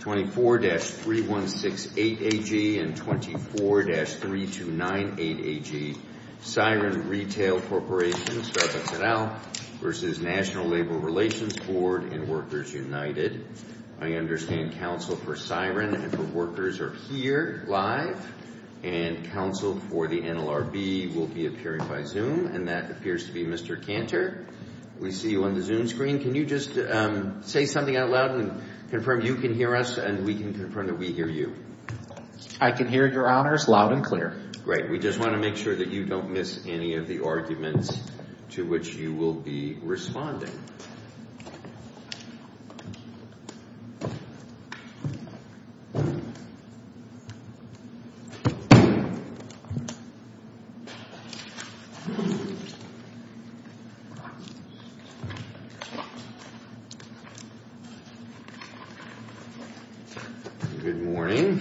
24-3168AG and 24-3298AG Siren Retail Corporation v. National Labor Relations Board and Workers United. I understand counsel for Siren and for Workers are here live and counsel for the NLRB will be appearing by Zoom and that appears to be Mr. Cantor. We see you on the Zoom screen. Can you just say something out loud and confirm you can hear us and we can confirm that we hear you? I can hear your honors loud and clear. Great. We just want to make sure that you don't miss any of the arguments to which you will be responding.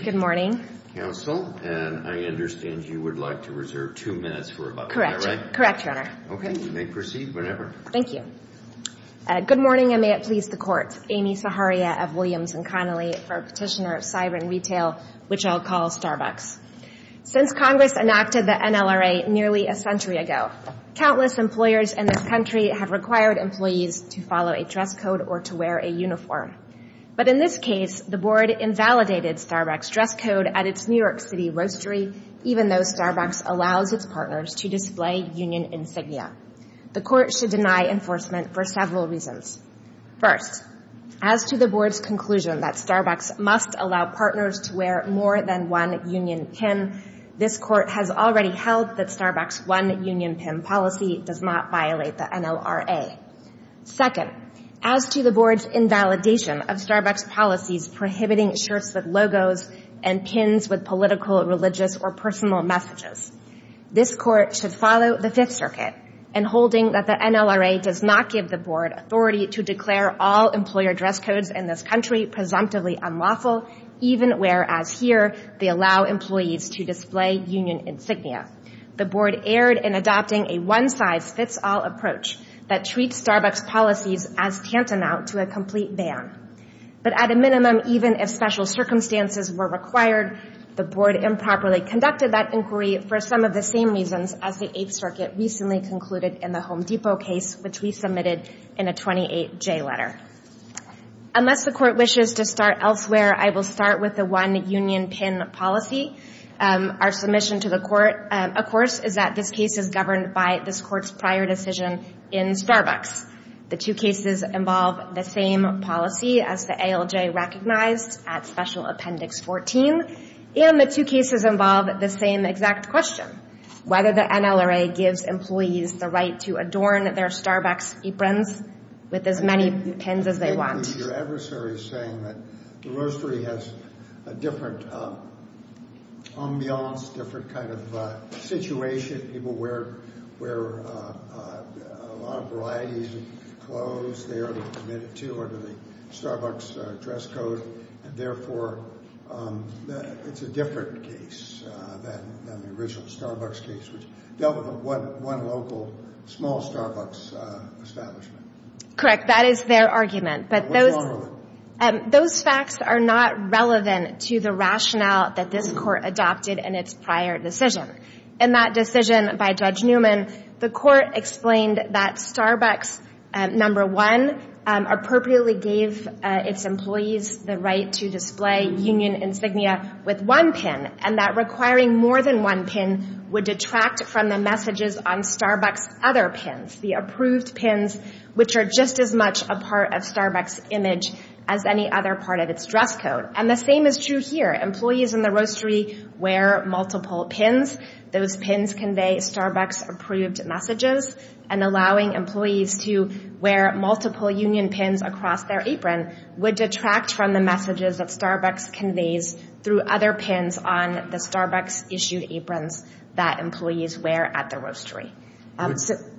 Good morning, counsel, and I understand you would like to reserve two minutes for about that, right? Correct, correct, your honor. Okay, you may proceed whenever. Thank you. Good morning and may it please the court, Amy Saharia of Williams and Connolly for a petitioner at Siren Retail, which I'll call Starbucks. Since Congress enacted the NLRA nearly a century ago, countless employers in this country have required employees to follow a dress code or to wear a uniform. But in this case, the board invalidated Starbucks' dress code at its New York City grocery, even though Starbucks allows its partners to display union insignia. The court should deny enforcement for several reasons. First, as to the board's conclusion that Starbucks must allow partners to wear more than one union pin, this court has already held that Starbucks' one union pin policy does not violate the NLRA. Second, as to the board's invalidation of Starbucks' policy prohibiting shirts with logos and pins with political, religious, or personal messages, this court should follow the Fifth Circuit in holding that the NLRA does not give the board authority to declare all employer dress codes in this country presumptively unlawful, even whereas here they allow employees to display union insignia. The board erred in adopting a one-size-fits-all approach that treats Starbucks' policies as tantamount to a complete ban. But at a minimum, even if special circumstances were required, the board improperly conducted that inquiry for some of the same reasons as the Eighth Circuit recently concluded in the Home Depot case, which we submitted in a 28-J letter. Unless the court wishes to start elsewhere, I will start with the one union pin policy. Our submission to the court, of course, is that this case is governed by this court's prior decision in Starbucks. The two cases involve the same policy as the ALJ recognized at Special Appendix 14, and the two cases involve the same exact question, whether the NLRA gives employees the right to adorn their Starbucks aprons with as many pins as they want. Your adversary is saying that the grocery has a different ambiance, a different kind of situation. People wear a lot of varieties of clothes there to commit to a Starbucks dress code, and therefore it's a different case than the original Starbucks case, which dealt with one local small Starbucks establishment. Correct, that is their argument, but those facts are not relevant to the rationale that this court adopted in its prior decision. In that decision by Judge Newman, the court explained that Starbucks, number one, appropriately gave its employees the right to display union insignia with one pin, and that requiring more than one pin would detract from the messages on Starbucks' other pins, the approved pins, which are just as much a part of Starbucks' image as any other part of its dress code. And the same is true here. Employees in the grocery wear multiple pins. Those pins convey Starbucks' approved messages, and allowing employees to wear multiple union pins across their aprons would detract from the messages that Starbucks conveys through other pins on the Starbucks-issued aprons that employees wear at the grocery.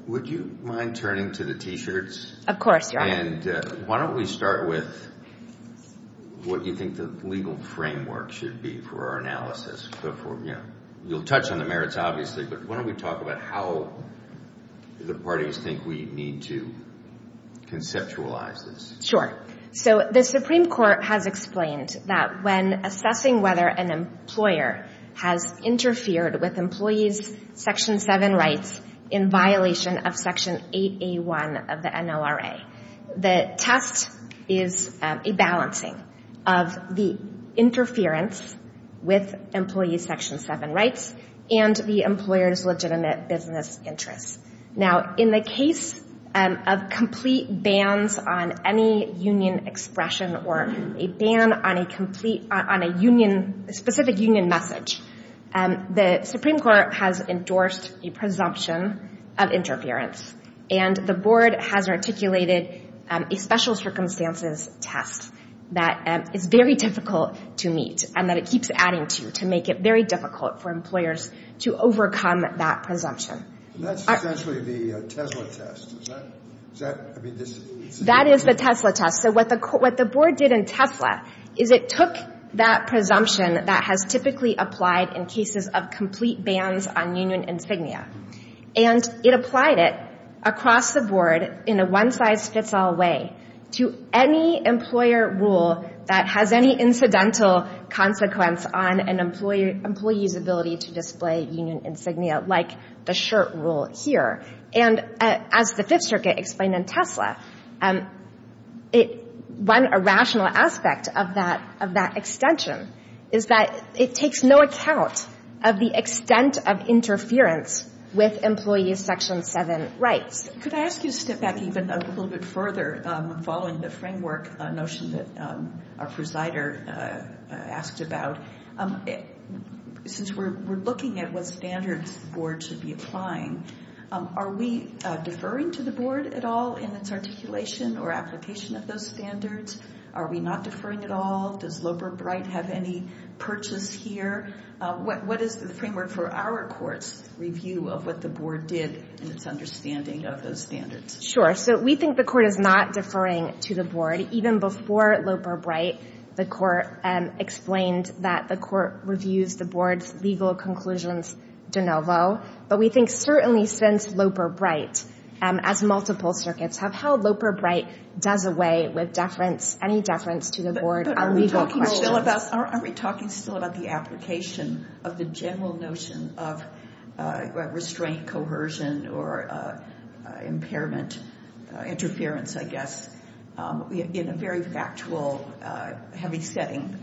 Would you mind turning to the T-shirts? Of course, John. And why don't we start with what do you think the legal framework should be for our analysis? You'll touch on the merits, obviously, but why don't we talk about how the parties think we need to conceptualize this? Sure. So the Supreme Court has explained that when assessing whether an employer has interfered with employees' Section 7 rights in violation of Section 8A1 of the NLRA, the test is a balancing of the interference with employees' Section 7 rights and the employer's legitimate business interest. Now, in the case of complete bans on any union expression or a ban on a specific union message, the Supreme Court has endorsed a presumption of interference, and the Board has articulated a special circumstances test that is very difficult to meet and that it keeps adding to to make it very difficult for employers to overcome that presumption. And that's essentially the Tesla test, is that it? That is the Tesla test. So what the Board did in Tesla is it took that presumption that has typically applied in cases of complete bans on union insignia, and it applied it across the Board in a one-size-fits-all way to any employer rule that has any incidental consequence on an employee's ability to display union insignia, like the shirt rule here. And as the Fifth Circuit explained in Tesla, one irrational aspect of that extension is that it takes no account of the extent of interference with employees' Section 7 rights. Could I ask you to step back even a little bit further, following the framework notion that our presider asked about, since we're looking at what standards the Board should be applying, are we deferring to the Board at all in its articulation or application of those standards? Are we not deferring at all? Does Loper-Bright have any purchase here? What is the framework for our court's review of what the Board did in its understanding of those standards? Sure. So we think the Court is not deferring to the Board. Even before Loper-Bright, the Court explained that the Court reviews the Board's legal conclusions de novo. But we think certainly since Loper-Bright, as multiple circuits, how Loper-Bright does away with any deference to the Board on legal questions. But are we talking still about the application of the general notion of restraint, coercion, or impairment, interference, I guess, in a very factual, heavy setting?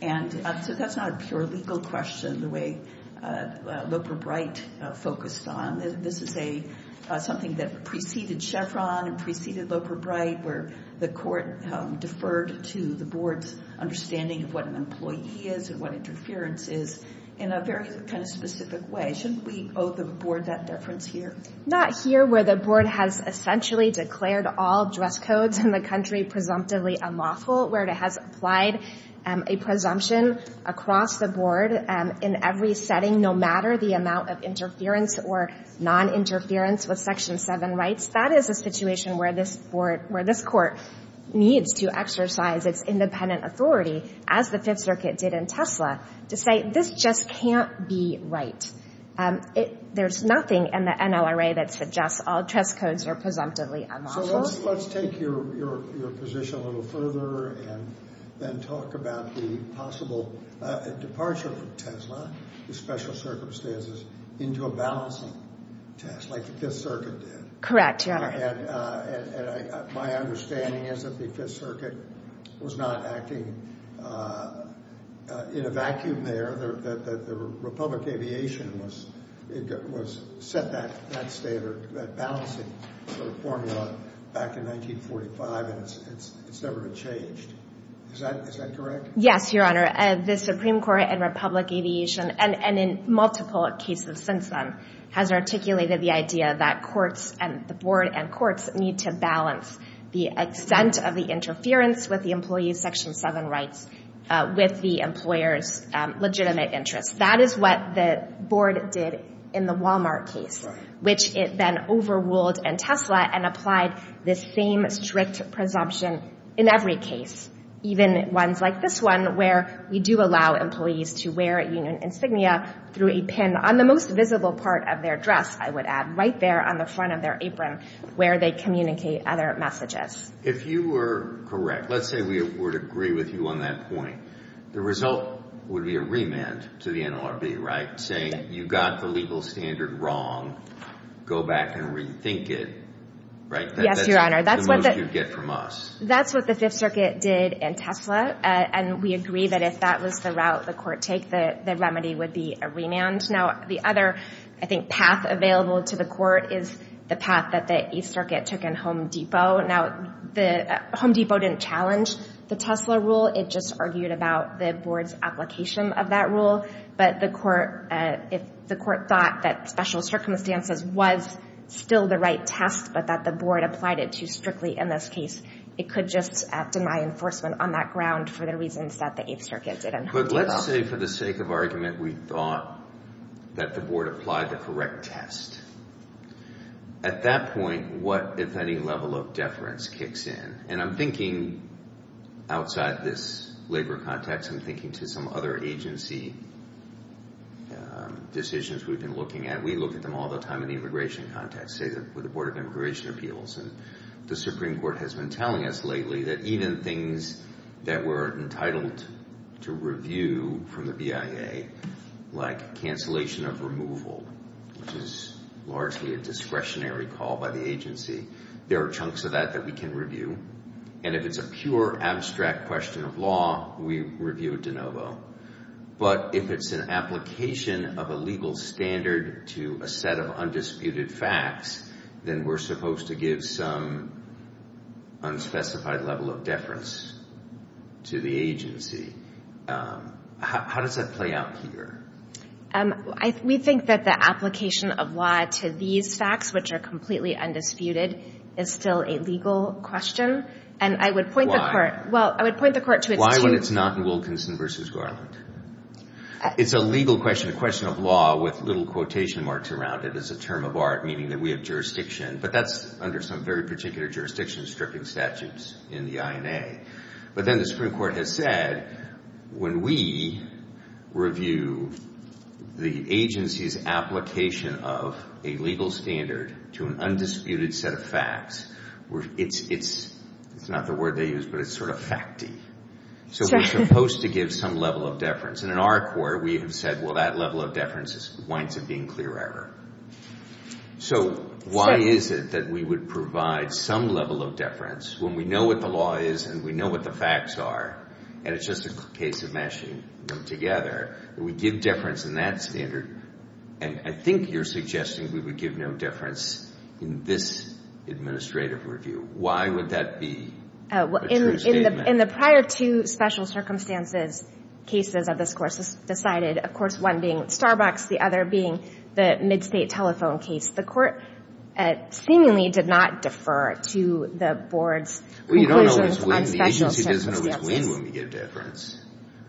And so that's not sort of a legal question, the way Loper-Bright focused on. This is something that preceded Chevron, preceded Loper-Bright, where the Court deferred to the Board's understanding of what an employee is and what interference is, in a very kind of specific way. Shouldn't we owe the Board that deference here? Not here, where the Board has essentially declared all dress codes in the country presumptively unlawful, where it has applied a presumption across the Board in every setting, no matter the amount of interference or non-interference with Section 7 rights. That is a situation where this Court needs to exercise its independent authority, as the Fifth Circuit did in Tesla, to say, this just can't be right. There's nothing in the NLRA that suggests all dress codes are presumptively unlawful. So let's take your position a little further and then talk about the possible departure from Tesla, the special circumstances, into a balancing test, like the Fifth Circuit did. Correct, yes. And my understanding is that the Fifth Circuit was not acting in a vacuum there, that the Republic Aviation was set back, that balancing formula back in 1945 and it's never been changed. Is that correct? Yes, Your Honor. The Supreme Court and Republic Aviation, and in multiple cases since then, has articulated the idea that the Board and courts need to balance the extent of the interference with the employee's Section 7 rights with the employer's legitimate interest. That is what the Board did in the Walmart case, which it then overruled in Tesla and applied the same strict presumption in every case, even ones like this one, where we do allow employees to wear a union insignia through a pin on the most visible part of their dress, I would add, right there on the front of their apron, where they communicate other messages. If you were correct, let's say we would agree with you on that point, the result would be a remand to the NLRB, right, saying you got the legal standard wrong, go back and rethink it, right? Yes, Your Honor. That's the most you'd get from us. That's what the Fifth Circuit did in Tesla, and we agree that if that was the route the court takes, the remedy would be a remand. Now, the other, I think, path available to the court is the path that the East Circuit took in Home Depot. Now, the Home Depot didn't challenge the Tesla rule, it just argued about the Board's application of that rule. But the court thought that special circumstances was still the right test, but that the Board applied it too strictly in this case. It could just act in my enforcement on that ground for the reasons that the Eighth Circuit did in Tesla. But let's say for the sake of argument, we thought that the Board applied the correct test. At that point, what if any level of deference kicks in? And I'm thinking outside this labor context, I'm thinking to some other agency decisions that we've been looking at. We look at them all the time in the immigration context, say for the Board of Immigration Appeals. And the Supreme Court has been telling us lately that even things that we're entitled to review from the BIA, like cancellation of removal, which is largely a discretionary call by the agency, there are chunks of that that we can review. And if it's a pure, abstract question of law, we review it de novo. But if it's an application of a legal standard to a set of undisputed facts, then we're supposed to give some unspecified level of deference to the agency. How does that play out here? We think that the application of law to these facts, which are completely undisputed, is still a legal question. And I would point the court to... Why would it not be Wilkinson v. Garland? It's a legal question, a question of law with little quotation marks around it as a term of art, meaning that we have jurisdiction. But that's under some very particular jurisdiction-stricken statutes in the IMA. But then the Supreme Court has said, when we review the agency's application of a legal standard to an undisputed set of facts, it's not the word they use, but it's sort of facty. So we're supposed to give some level of deference. And in our court, we have said, well, that level of deference is going to be in clear error. So why is it that we would provide some level of deference when we know what the law is and we know what the facts are, and it's just a case of meshing them together? We give deference in that standard. And I think you're suggesting we would give no deference in this administrative review. Why would that be? In the prior two special circumstances cases of this course, this is decided, of course, one being Starbucks, the other being the Mid-State Telephone case. The court seemingly did not defer to the board's... Well, you don't always win. The agency doesn't always win when we give deference.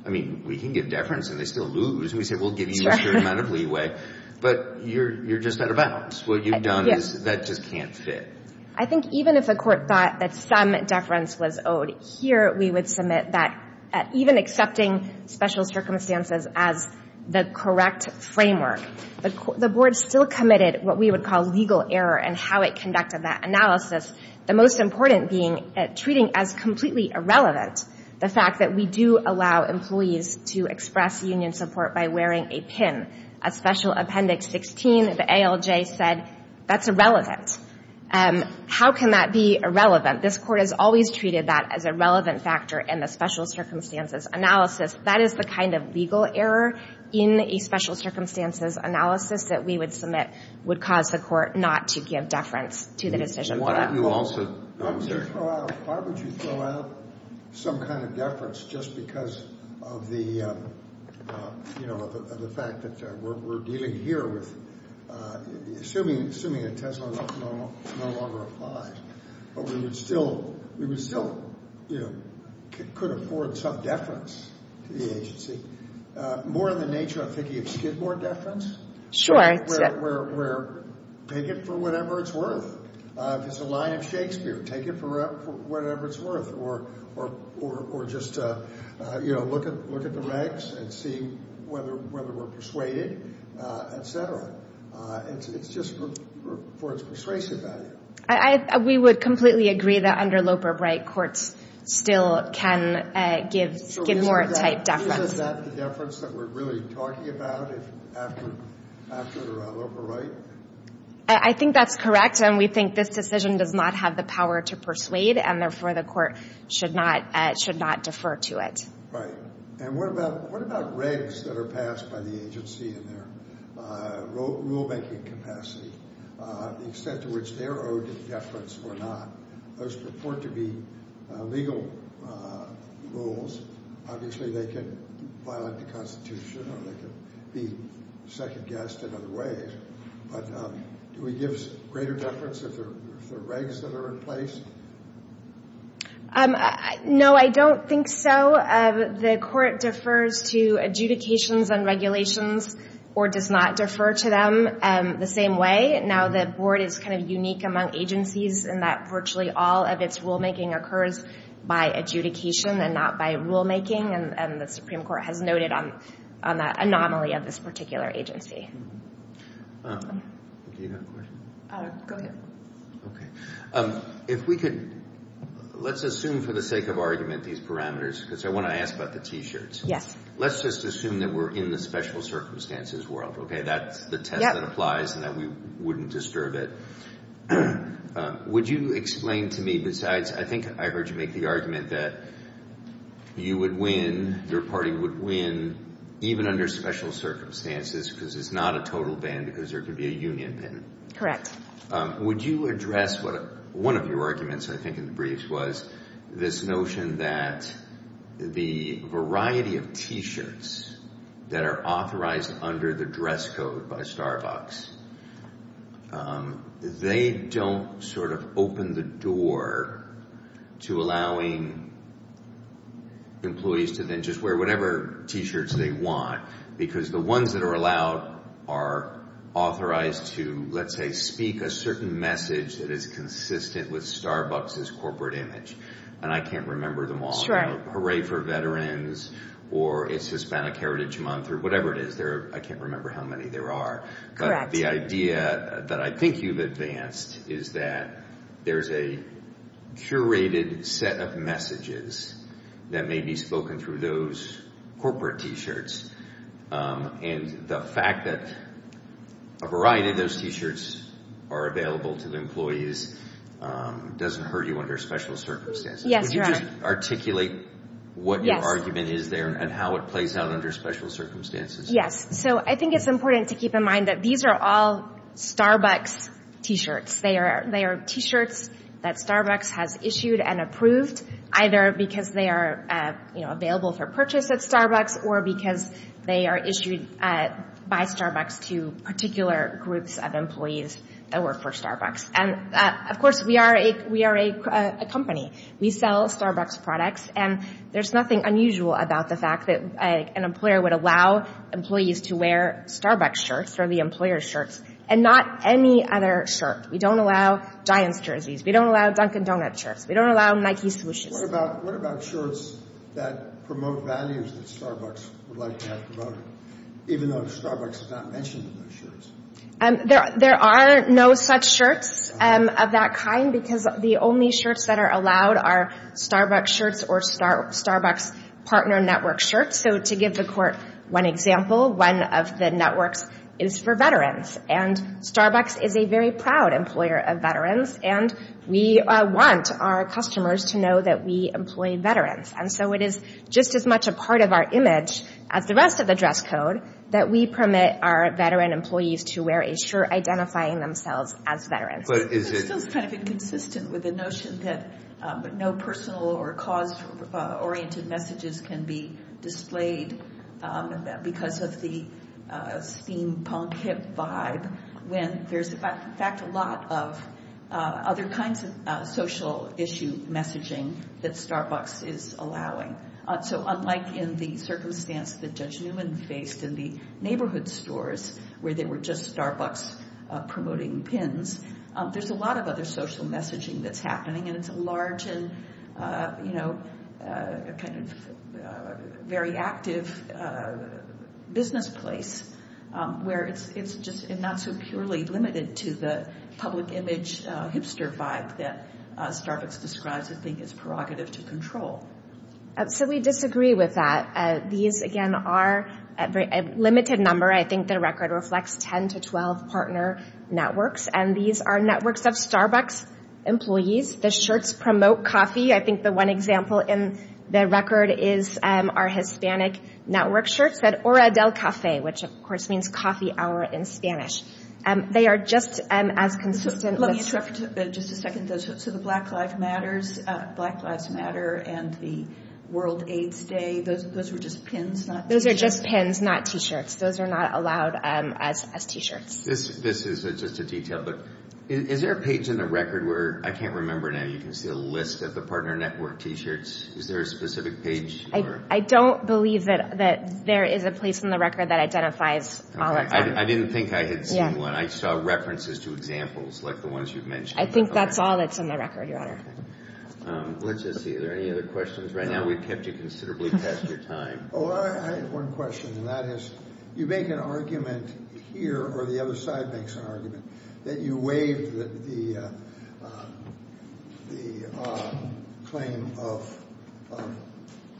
I mean, we can give deference and they still lose. We say, we'll give you a certain amount of leeway. But you're just out of bounds. What you've done is, that just can't fit. I think even if a court thought that some deference was owed, here we would submit that, even accepting special circumstances as the correct framework, the board still committed what we would call legal error in how it conducted that analysis. The most important being, treating as completely irrelevant, the fact that we do allow employees to express union support by wearing a tin. At Special Appendix 16, the ALJ said, that's irrelevant. How can that be irrelevant? This court has always treated that as a relevant factor in the special circumstances analysis. That is the kind of legal error in a special circumstances analysis that we would submit, would cause the court not to give deference to the decision. Why would you throw out some kind of deference just because of the, you know, of the fact that we're dealing here with, assuming it doesn't no longer apply. But we would still, we would still, you know, could afford some deference to the agency. More than nature, I'm thinking, if you did more deference. Sure. We're, we're, we're, take it for whatever it's worth. If it's a lie of Shakespeare, take it for whatever it's worth, or, or, or just, you know, look at, look at the rights and see whether, whether we're persuaded, et cetera. It's, it's just for, for persuasion. I, I, we would completely agree that under Loper-Bright, courts still can give, give more right deference. Isn't that the deference that we're really talking about, after, after Loper-Bright? I, I think that's correct, and we think this decision does not have the power to persuade, and therefore the court should not, should not defer to it. Right. And what about, what about regs that are passed by the agency in their rulemaking capacity, the extent to which they're owed deference or not? Those refer to be legal rules. Obviously, they could violate the Constitution, or they could be second-guessed in other ways, but do we give greater deference if there, if there are regs that are in place? No, I don't think so. The court defers to adjudications and regulations, or does not defer to them the same way. I think that now the board is kind of unique among agencies, in that virtually all of its rulemaking occurs by adjudication and not by rulemaking, and, and the Supreme Court has noted on, on that anomaly of this particular agency. Well, do you have a question? Go ahead. Okay. If we could, let's assume for the sake of argument, these parameters, because I want to ask about the T-shirts. Yes. Let's just assume that we're in the special circumstances world, okay? That's the test that applies, and that we wouldn't disturb it. Would you explain to me, besides, I think I heard you make the argument that you would win, your party would win, even under special circumstances, because it's not a total ban, because there could be a union in it. Correct. Would you address what, one of your arguments, I think, in the briefs was this notion that the variety of T-shirts that are authorized under the dress code by Starbucks, they don't sort of open the door to allowing employees to then just wear whatever T-shirts they want, because the ones that are allowed are authorized to, let's say, speak a certain message that is consistent with Starbucks' corporate image, and I can't remember them all. So, hooray for veterans, or it's Hispanic Heritage Month, or whatever it is. I can't remember how many there are. Correct. But the idea that I think you've advanced is that there's a curated set of messages that may be spoken through those corporate T-shirts, and the fact that a variety of those T-shirts are available to the employees doesn't hurt you under special circumstances. Yes, you're right. Could you just articulate what your argument is there, and how it plays out under special circumstances? Yes. So, I think it's important to keep in mind that these are all Starbucks T-shirts. They are T-shirts that Starbucks has issued and approved, either because they are available for purchase at Starbucks, or because they are issued by Starbucks to particular groups of employees that work for Starbucks. And, of course, we are a company. We sell Starbucks products, and there's nothing unusual about the fact that an employer would allow employees to wear Starbucks shirts, or the employer's shirts, and not any other shirt. We don't allow Giants jerseys. We don't allow Dunkin' Donuts shirts. We don't allow Nike solutions. What about shirts that promote values that Starbucks would like to have promoted, even though Starbucks has not mentioned those shirts? There are no such shirts of that kind, because the only shirts that are allowed are Starbucks shirts, or Starbucks partner network shirts. So, to give the court one example, one of the networks is for veterans, and Starbucks is a very proud employer of veterans, and we want our customers to know that we employ veterans. And so, it is just as much a part of our image as the rest of the dress code that we permit our veteran employees to wear a shirt identifying themselves as veterans. But is it? It's kind of inconsistent with the notion that no personal or cause-oriented messages can be displayed because of the steampunk hip vibe, when there's, in fact, a lot of other kinds of social issue messaging that Starbucks is allowing. So, unlike in the circumstance that Judge Newman faced in the neighborhood stores, where they were just Starbucks promoting pins, there's a lot of other social messaging that's happening, and it's a large and, you know, a kind of very active business place, where it's just not so purely limited to the public image hipster vibe that Starbucks describes as being its prerogative to control. So, we disagree with that. These, again, are a limited number. I think the record reflects 10 to 12 partner networks, and these are networks of Starbucks employees. The shirts promote coffee. I think the one example in the record is our Hispanic network shirt that Ora del Cafe, which, of course, means coffee hour in Spanish. They are just as consistent with the... The World AIDS Day, those are just pins, not t-shirts. Those are just pins, not t-shirts. Those are not allowed as t-shirts. This is just a detail, but is there a page in the record where, I can't remember now, you can just get a list of the partner network t-shirts. Is there a specific page, or? I don't believe that there is a place in the record that identifies all of them. I didn't think I had seen one. I saw references to examples, like the ones you've mentioned. I think that's all that's in the record, Your Honor. Let's just see. Are there any other questions? Right now, we've kept you considerably past your time. Oh, I have one question, and that is, you make an argument here, or the other side makes an argument, that you waive the claim of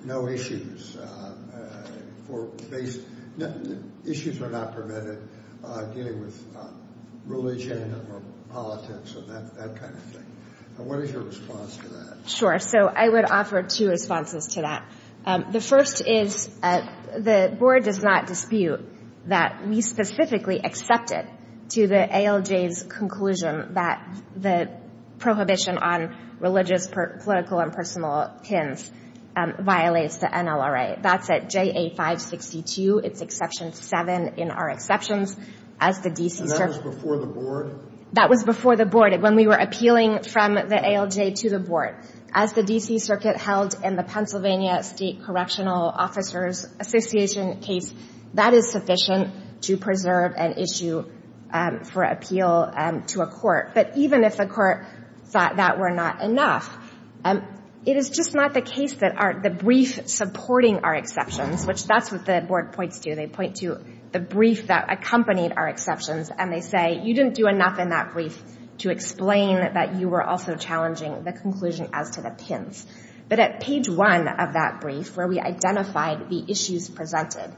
no issues. Issues are not permitted, dealing with religion, or politics, or that kind of thing. What is your response to that? Sure, so I would offer two responses to that. The first is, the Board does not dispute that we specifically accepted to the ALJ's conclusion that the prohibition on religious, political, and personal pins violates the NLRA. That's at JA 562, it's Exception 7 in our exceptions, as the D.C. And that was before the Board? That was before the Board, when we were appealing from the ALJ to the Board. As the D.C. Circuit held in the Pennsylvania State Collectional Officers Association case, that is sufficient to preserve an issue for appeal to a court. But even if a court thought that were not enough, it is just not the case that the brief supporting our exceptions, which that's what the Board points to. They point to the brief that accompanied our exceptions, and they say, you didn't do enough in that brief to explain that you were also challenging the conclusion as to the pins. But at page one of that brief, where we identified the issues presented,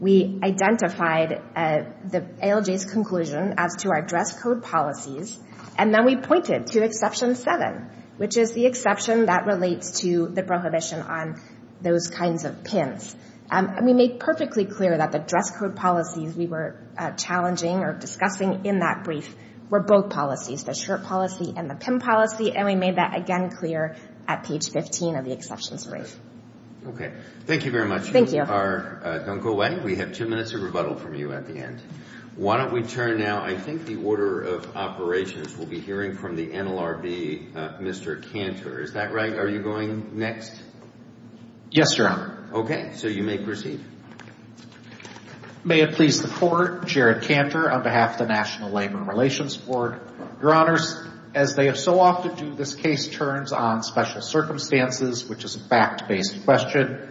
we identified the ALJ's conclusion as to our dress code policies, and then we pointed to Exception 7, which is the exception that relates to the prohibition on those kinds of pins. And we made perfectly clear that the dress code policies we were challenging or discussing in that brief were both policies, the shirt policy and the pin policy, and we made that again clear at page 15 of the exceptions brief. Okay. Thank you very much. Thank you. This is our dunk away. We have two minutes of rebuttal from you at the end. Why don't we turn now, I think the Order of Operations will be hearing from the MLRB, Mr. Kanzler. Is that right? Are you going next? Yes, Your Honor. Okay. So you may proceed. If I may have pleased before, Jared Tantor on behalf of the National Labor and Relations Board. Your Honors, as they have so often do, this case turns on special circumstances, which is a fact-based question.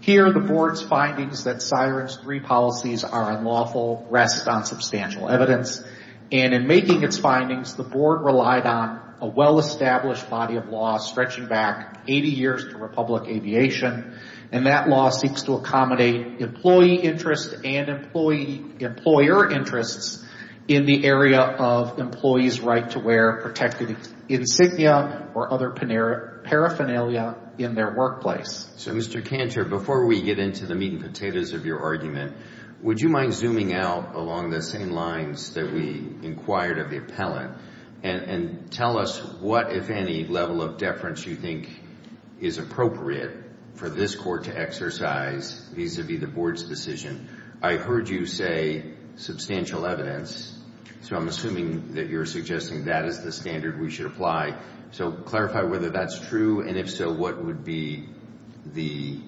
Here, the Board's findings that Syrinx 3 policies are unlawful rest on substantial evidence. And in making its findings, the Board relied on a well-established body of law stretching back 80 years to Republic Aviation, and that law seeks to accommodate employee interests and employer interests in the area of employees' right-to-wear, protected insignia or other paraphernalia in their workplace. So, Mr. Kantor, before we get into the meat and potatoes of your argument, would you mind zooming out along the same lines that we inquired of the appellant and tell us what, if any, level of deference you think is appropriate for this Court to exercise vis-à-vis the Board's decision? I heard you say substantial evidence, so I'm assuming that you're suggesting that is the standard we should apply. So, clarify whether that's true, and if so, what would be the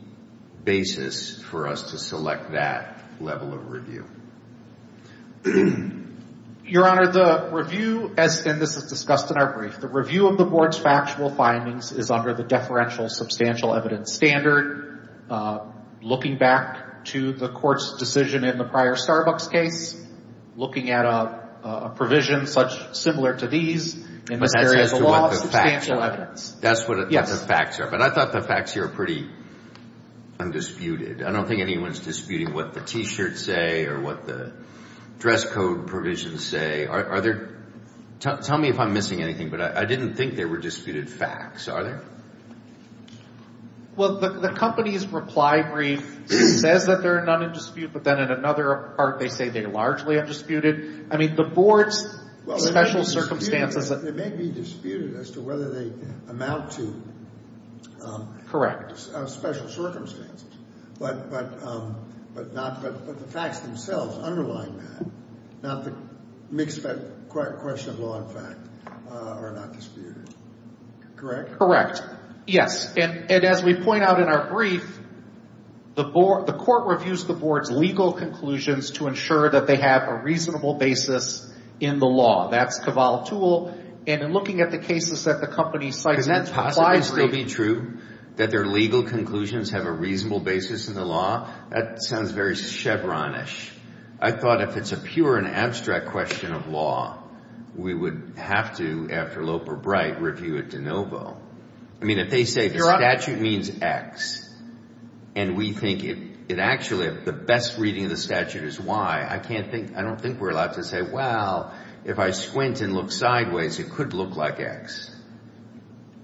basis for us to select that level of review? Your Honor, the review, and this was discussed in our brief, the review of the Board's factual findings is under the deferential substantial evidence standard, looking back to the Court's decision in the prior Starbucks case, looking at a provision much similar to these in the areas of law and substantial evidence. That's what the facts are, but I thought the facts here were pretty undisputed. I don't think anyone's disputing what the T-shirts say or what the dress code provisions say. Tell me if I'm missing anything, but I didn't think there were disputed facts, are there? Well, the company's reply brief says that there are none in dispute, but then in another part they say they largely are disputed. I mean, the Board's special circumstances... Well, they may be disputed as to whether they amount to... Correct. ...special circumstances, but the facts themselves underline that, not to mix that question of law and fact are not disputed. Correct? Correct, yes, and as we point out in our brief, the Court reviews the Board's legal conclusions to ensure that they have a reasonable basis in the law. That's Cavalli's tool, and in looking at the cases that the company cites in that reply brief... Could it possibly still be true that their legal conclusions have a reasonable basis in the law? That sounds very Chevron-ish. I thought if it's a pure and abstract question of law, we would have to, after Loper-Bright, review it de novo. I mean, if they say the statute means X, and we think it actually, if the best reading of the statute is Y, I don't think we're allowed to say, well, if I squint and look sideways, it could look like X.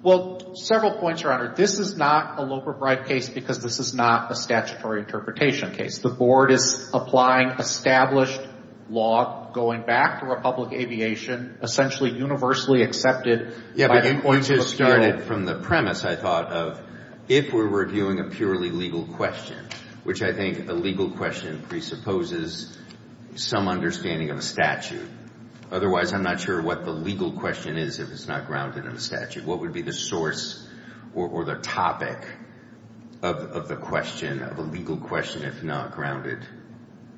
Well, several points, Your Honor. This is not a Loper-Bright case because this is not a statutory interpretation case. The Board is applying established law going back to Republic Aviation, essentially universally accepted by the point of appeal. From the premise, I thought of, if we're reviewing a purely legal question, which I think the legal question presupposes some understanding of the statute. Otherwise, I'm not sure what the legal question is if it's not grounded in the statute. What would be the source or the topic of the question, of the legal question, if not grounded?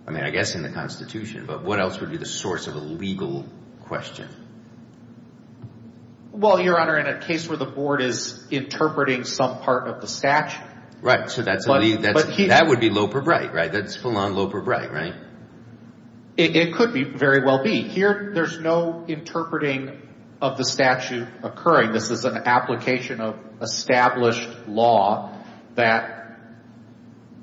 I mean, I guess in the Constitution. But what else would be the source of a legal question? Well, Your Honor, in a case where the Board is interpreting some part of the statute. Right, so that would be Loper-Bright, right? That's full-on Loper-Bright, right? It could very well be. Here, there's no interpreting of the statute occurring. This is an application of established law that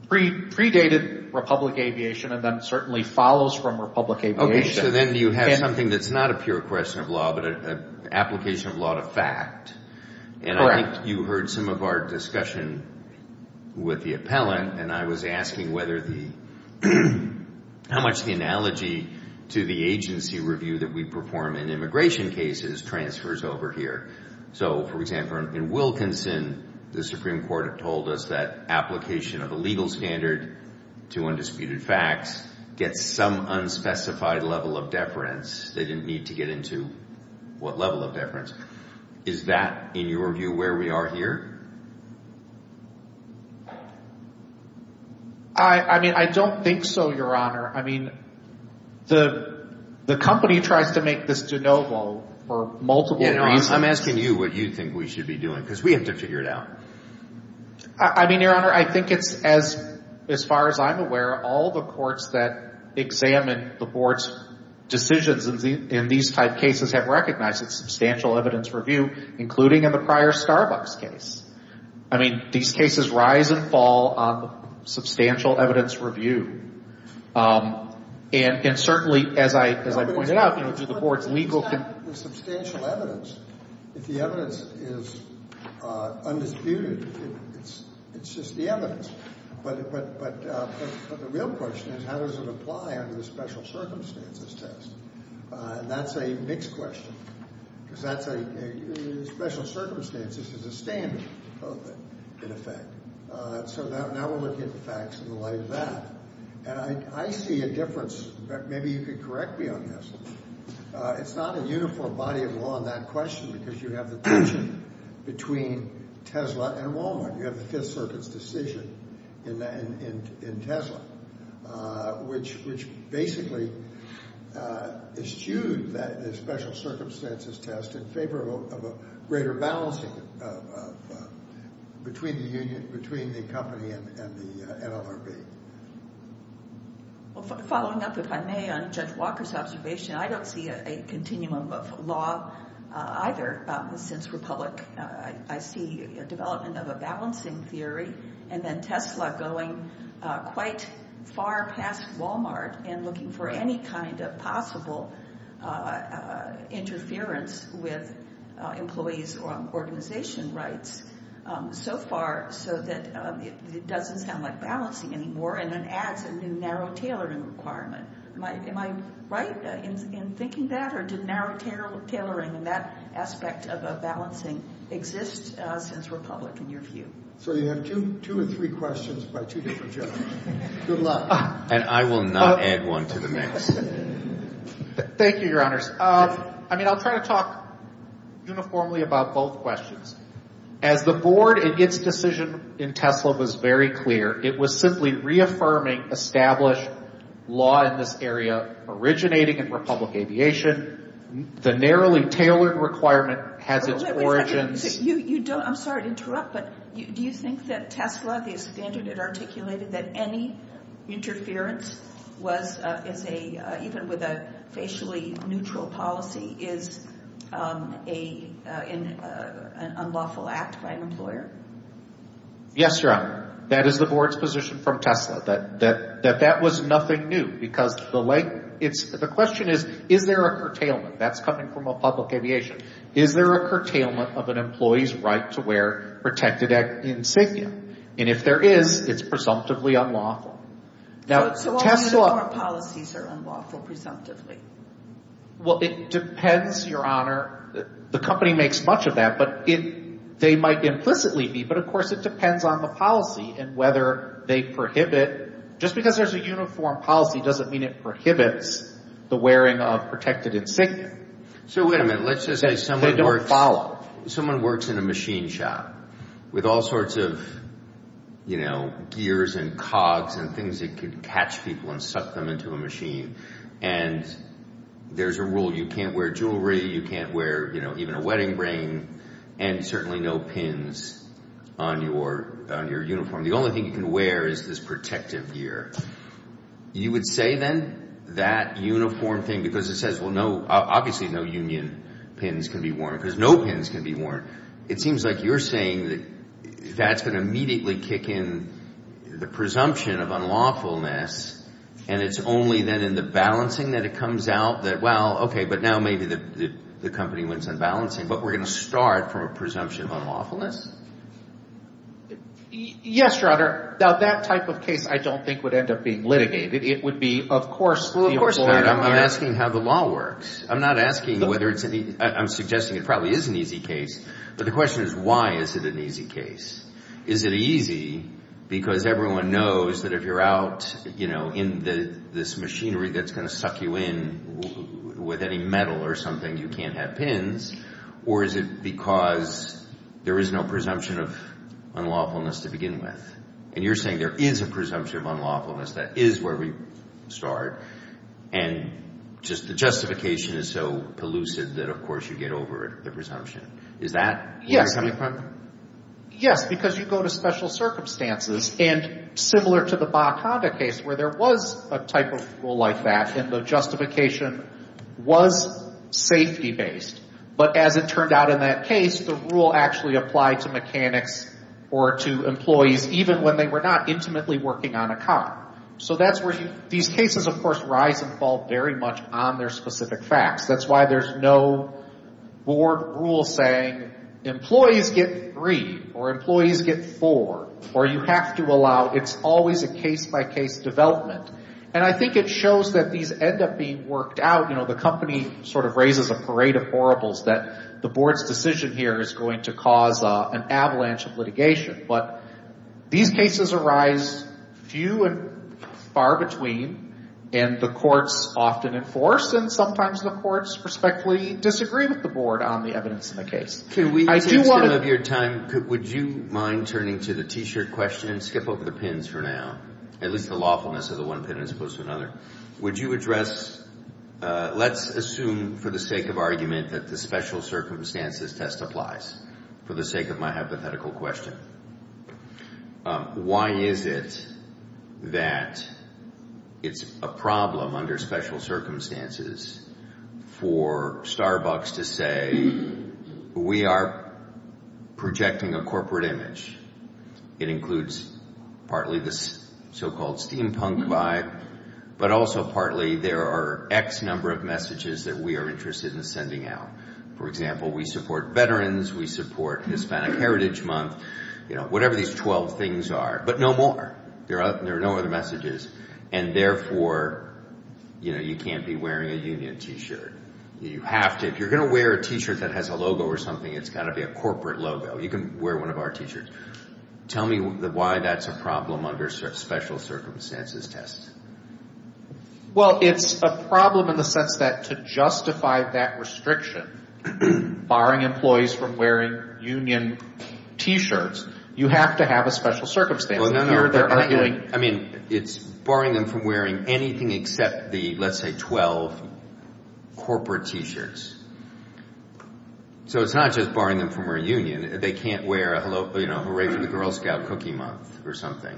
predated Republic Aviation and then certainly follows from Republic Aviation. Okay, so then you have something that's not a pure question of law, but an application of law to fact. And I think you heard some of our discussion with the appellant, and I was asking how much the analogy to the agency review that we perform in immigration cases transfers over here. So, for example, in Wilkinson, the Supreme Court told us that application of a legal standard to undisputed facts gets some unspecified level of deference. They didn't need to get into what level of deference. Is that, in your view, where we are here? I mean, I don't think so, Your Honor. I mean, the company tries to make this de novo for multiple times. I'm asking you what you think we should be doing, because we have to figure it out. I mean, Your Honor, I think it's, as far as I'm aware, all the courts that examine the Board's decisions in these type cases have recognized substantial evidence review, including in the prior Starbucks case. I mean, these cases rise and fall on substantial evidence review. And certainly, as I pointed out, the Board's legal... It's not the substantial evidence. The evidence is undisputed. It's just the evidence. But the real question is how does it apply under the special circumstances test? And that's a mixed question. Because that's a... Special circumstances is a standard, in effect. So now we're looking at the facts in the light of that. And I see a difference. Maybe you could correct me on this. It's not a uniform body of law in that question, because you have the tension between Tesla and Walmart. You have the fifth circuit's decision in Tesla, which basically eschews that special circumstances test in favor of a greater balance between the company and Walmart. Following up, if I may, on Jeff Walker's observation, I don't see a continuum of law either. Since Republic, I see a development of a balancing theory, and then Tesla going quite far past Walmart and looking for any kind of possible interference with employees' organization rights so far so that it doesn't sound like balancing anymore, and then adds a new narrow tailoring requirement. Am I right in thinking that, or do narrow tailoring and that aspect of a balancing exist since Republic, in your view? So you have two or three questions by two different gentlemen. Good luck. And I will not add one to the mix. Thank you, Your Honors. I mean, I'll try to talk uniformly about both questions. As the board in its decision in Tesla was very clear, it was simply reaffirming established law in this area originating in Republic Aviation. The narrowly tailored requirement had this origin. I'm sorry to interrupt, but do you think that Tesla is standing and articulating that any interference even with a facially neutral policy is an unlawful act by an employer? Yes, Your Honor. That is the board's position from Tesla, that that was nothing new because the question is, is there a curtailment? That's coming from Republic Aviation. Is there a curtailment of an employee's right to wear protected insignia? And if there is, it's presumptively unlawful. But Tesla's policies are unlawful presumptively. Well, it depends, Your Honor. The company makes much of that, but they might implicitly be, but of course it depends on the policy and whether they prohibit. Just because there's a uniform policy doesn't mean it prohibits the wearing of protected insignia. Okay. So wait a minute. Let's just say someone works in a machine shop with all sorts of, you know, gears and cogs and things that could catch people and suck them into a machine, and there's a rule you can't wear jewelry, you can't wear, you know, even a wedding ring, and certainly no pins on your uniform. The only thing you can wear is this protective gear. You would say then that uniform thing, because it says, well, obviously no union pins can be worn, because no pins can be worn. It seems like you're saying that that's going to immediately kick in the presumption of unlawfulness, and it's only then in the balancing that it comes out that, well, okay, but now maybe the company wins in balancing, but we're going to start from a presumption of unlawfulness? Yes, Your Honor. Now, that type of case I don't think would end up being litigated. It would be, of course, ruled for. I'm not asking how the law works. I'm not asking whether it's an easy case. I'm suggesting it probably is an easy case, but the question is why is it an easy case? Is it easy because everyone knows that if you're out, you know, in this machinery that's going to suck you in with any metal or something, you can't have pins, or is it because there is no presumption of unlawfulness to begin with? And you're saying there is a presumption of unlawfulness. There is a presumption of unlawfulness. That is where we start, and just the justification is so elusive that, of course, you get over the presumption. Is that where you're coming from? Yes, because you go to special circumstances, and similar to the BACADA case where there was a type of rule like that and the justification was safety-based, but as it turned out in that case, the rule actually applied to mechanics or to employees, even when they were not intimately working on a car. So that's where these cases, of course, rise and fall very much on their specific facts. That's why there's no board rule saying employees get three or employees get four, or you have to allow. It's always a case-by-case development, and I think it shows that these end up being worked out. You know, the company sort of raises a parade of horribles that the board's decision here is going to cause an avalanche of litigation, but these cases arise few and far between, and the courts often enforce, and sometimes the courts respectfully disagree with the board on the evidence in the case. I do want to... Would you mind turning to the T-shirt question and skip over the pins for now, at least the lawfulness of the one pin as opposed to another? Would you address, let's assume for the sake of argument, that the special circumstances test applies, for the sake of my hypothetical question. Why is it that it's a problem under special circumstances for Starbucks to say, we are projecting a corporate image? It includes partly the so-called steampunk vibe, but also partly there are X number of messages that we are interested in sending out. For example, we support veterans, we support Hispanic Heritage Month, you know, whatever these 12 things are, but no more. There are no other messages, and therefore, you know, you can't be wearing a union T-shirt. You have to. If you're going to wear a T-shirt that has a logo or something, it's got to be a corporate logo. You can wear one of our T-shirts. Tell me why that's a problem under special circumstances test. Well, it's a problem in the sense that to justify that restriction, barring employees from wearing union T-shirts, you have to have a special circumstance. I mean, it's barring them from wearing anything except the, let's say, 12 corporate T-shirts. So, it's not just barring them from wearing union. They can't wear, you know, hooray for the Girl Scout cookie month or something.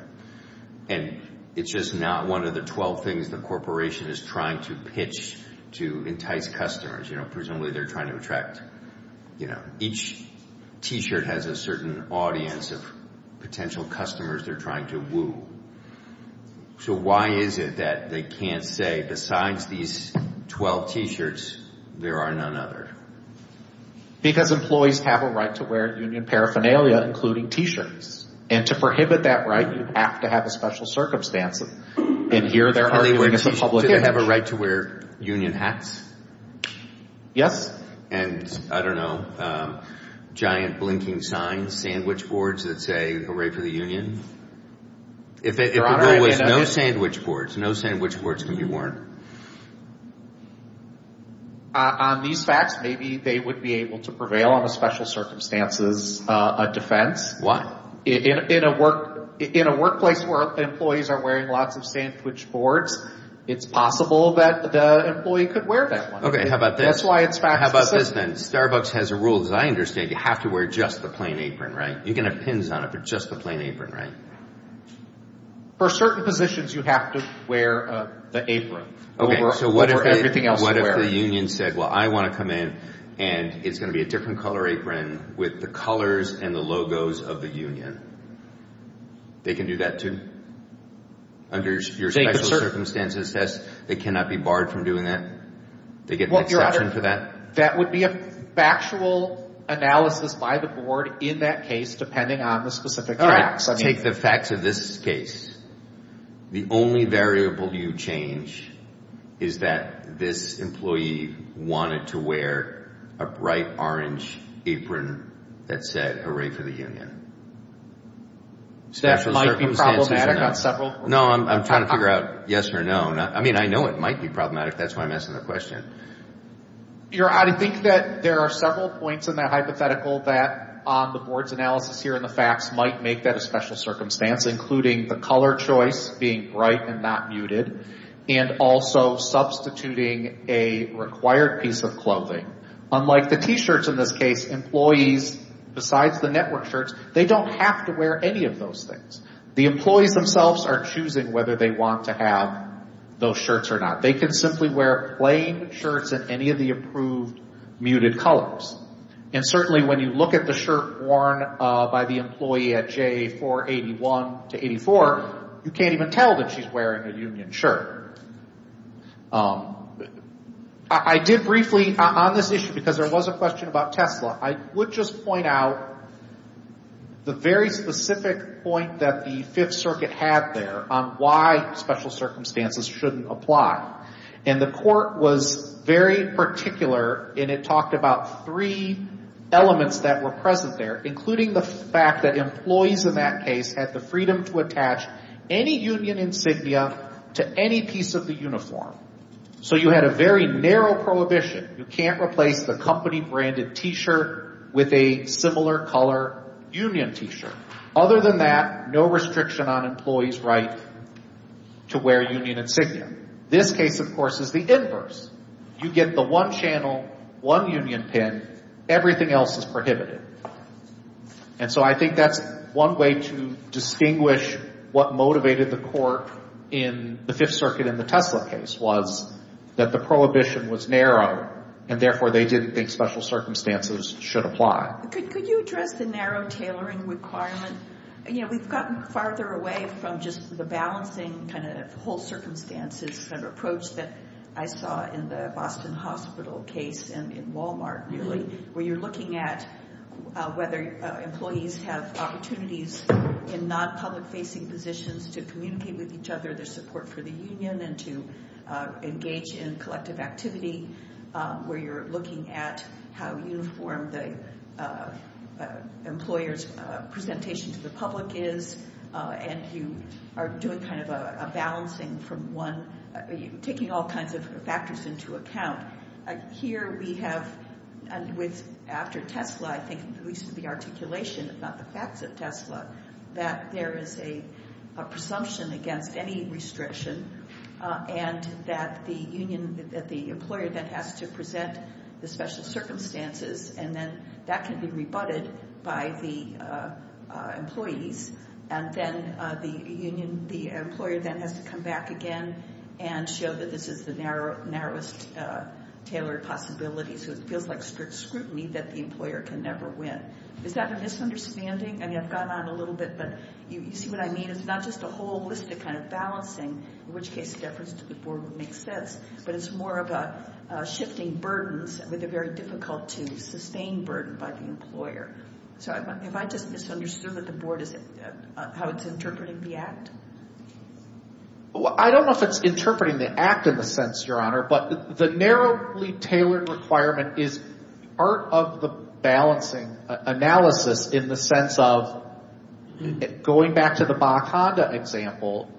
And it's just not one of the 12 things the corporation is trying to pitch to entice customers. You know, presumably they're trying to attract, you know, each T-shirt has a certain audience of potential customers they're trying to woo. So, why is it that they can't say, besides these 12 T-shirts, there are none other? Because employees have a right to wear union paraphernalia, including T-shirts. And to prohibit that right, you have to have a special circumstance. And here, they're arguing to the public that they have a right to wear union hats. Yes. And, I don't know, giant blinking sign sandwich boards that say, hooray for the union. If there was no sandwich boards, no sandwich boards can be worn. On these facts, maybe they would be able to prevail on the special circumstances defense. What? In a workplace where employees are wearing lots of sandwich boards, it's possible that the employee could wear that one. Okay, how about this? That's why it's fact. How about this then? Starbucks has a rule, as I understand, you have to wear just the plain apron, right? You can have pins on it, but just the plain apron, right? For certain positions, you have to wear the apron. Okay, so what if the union said, well, I want to come in, and it's going to be a different color apron with the colors and the logos of the union. They can do that too? Under your special circumstances test, they cannot be barred from doing that? They get the exception to that? That would be a factual analysis by the board in that case, depending on the specific facts. All right, take the facts of this case. The only variable you change is that this employee wanted to wear a bright orange apron that said, hooray for the union. That might be problematic on several points. No, I'm trying to figure out yes or no. I mean, I know it might be problematic. That's why I'm asking the question. I think that there are several points in that hypothetical that the board's analysis here and the facts might make that a special circumstance, including the color choice being bright and not muted, and also substituting a required piece of clothing. Unlike the T-shirts in this case, employees, besides the network shirts, they don't have to wear any of those things. The employees themselves are choosing whether they want to have those shirts or not. They can simply wear plain shirts in any of the approved muted colors. And certainly when you look at the shirt worn by the employee at J481-84, you can't even tell that she's wearing a union shirt. I did briefly on this issue, because there was a question about Tesla, I would just point out the very specific point that the Fifth Circuit had there on why special circumstances shouldn't apply. And the court was very particular, and it talked about three elements that were present there, including the fact that employees in that case had the freedom to attach any union insignia to any piece of the uniform. So you had a very narrow prohibition. You can't replace a company branded T-shirt with a similar color union T-shirt. Other than that, no restriction on employees' right to wear union insignia. This case, of course, is the inverse. You get the one channel, one union pin, everything else is prohibited. And so I think that's one way to distinguish what motivated the court in the Fifth Circuit in the Tesla case was that the prohibition was narrow, and therefore they didn't think special circumstances should apply. Could you address the narrow tailoring requirement? Yeah, we've gotten farther away from just the balancing kind of whole circumstances kind of approach that I saw in the Boston Hospital case and in Walmart, really, where you're looking at whether employees have opportunities in non-public-facing positions to communicate with each other their support for the union and to engage in collective activity, where you're looking at how uniform the employer's presentation to the public is, and you are doing kind of a balancing from one, taking all kinds of factors into account. Here we have, after Tesla, I think, at least the articulation, it's not the fact that Tesla, that there is a presumption against any restriction, and that the employer then has to present the special circumstances, and then that can be rebutted by the employees, and then the employer then has to come back again and show that this is the narrowest tailored possibility. So it feels like strict scrutiny that the employer can never win. Is that a misunderstanding? I mean, I've gone on a little bit, but you see what I mean? So it's not just a holistic kind of balancing, in which case the efforts of the board would make sense, but it's more of a shifting burdens with a very difficult-to-sustain burden by the employer. So have I misunderstood what the board is, how it's interpreting the act? Well, I don't know if it's interpreting the act in the sense, Your Honor, but the narrowly tailored requirement is part of the balancing analysis in the sense of going back to the Bonneconda example,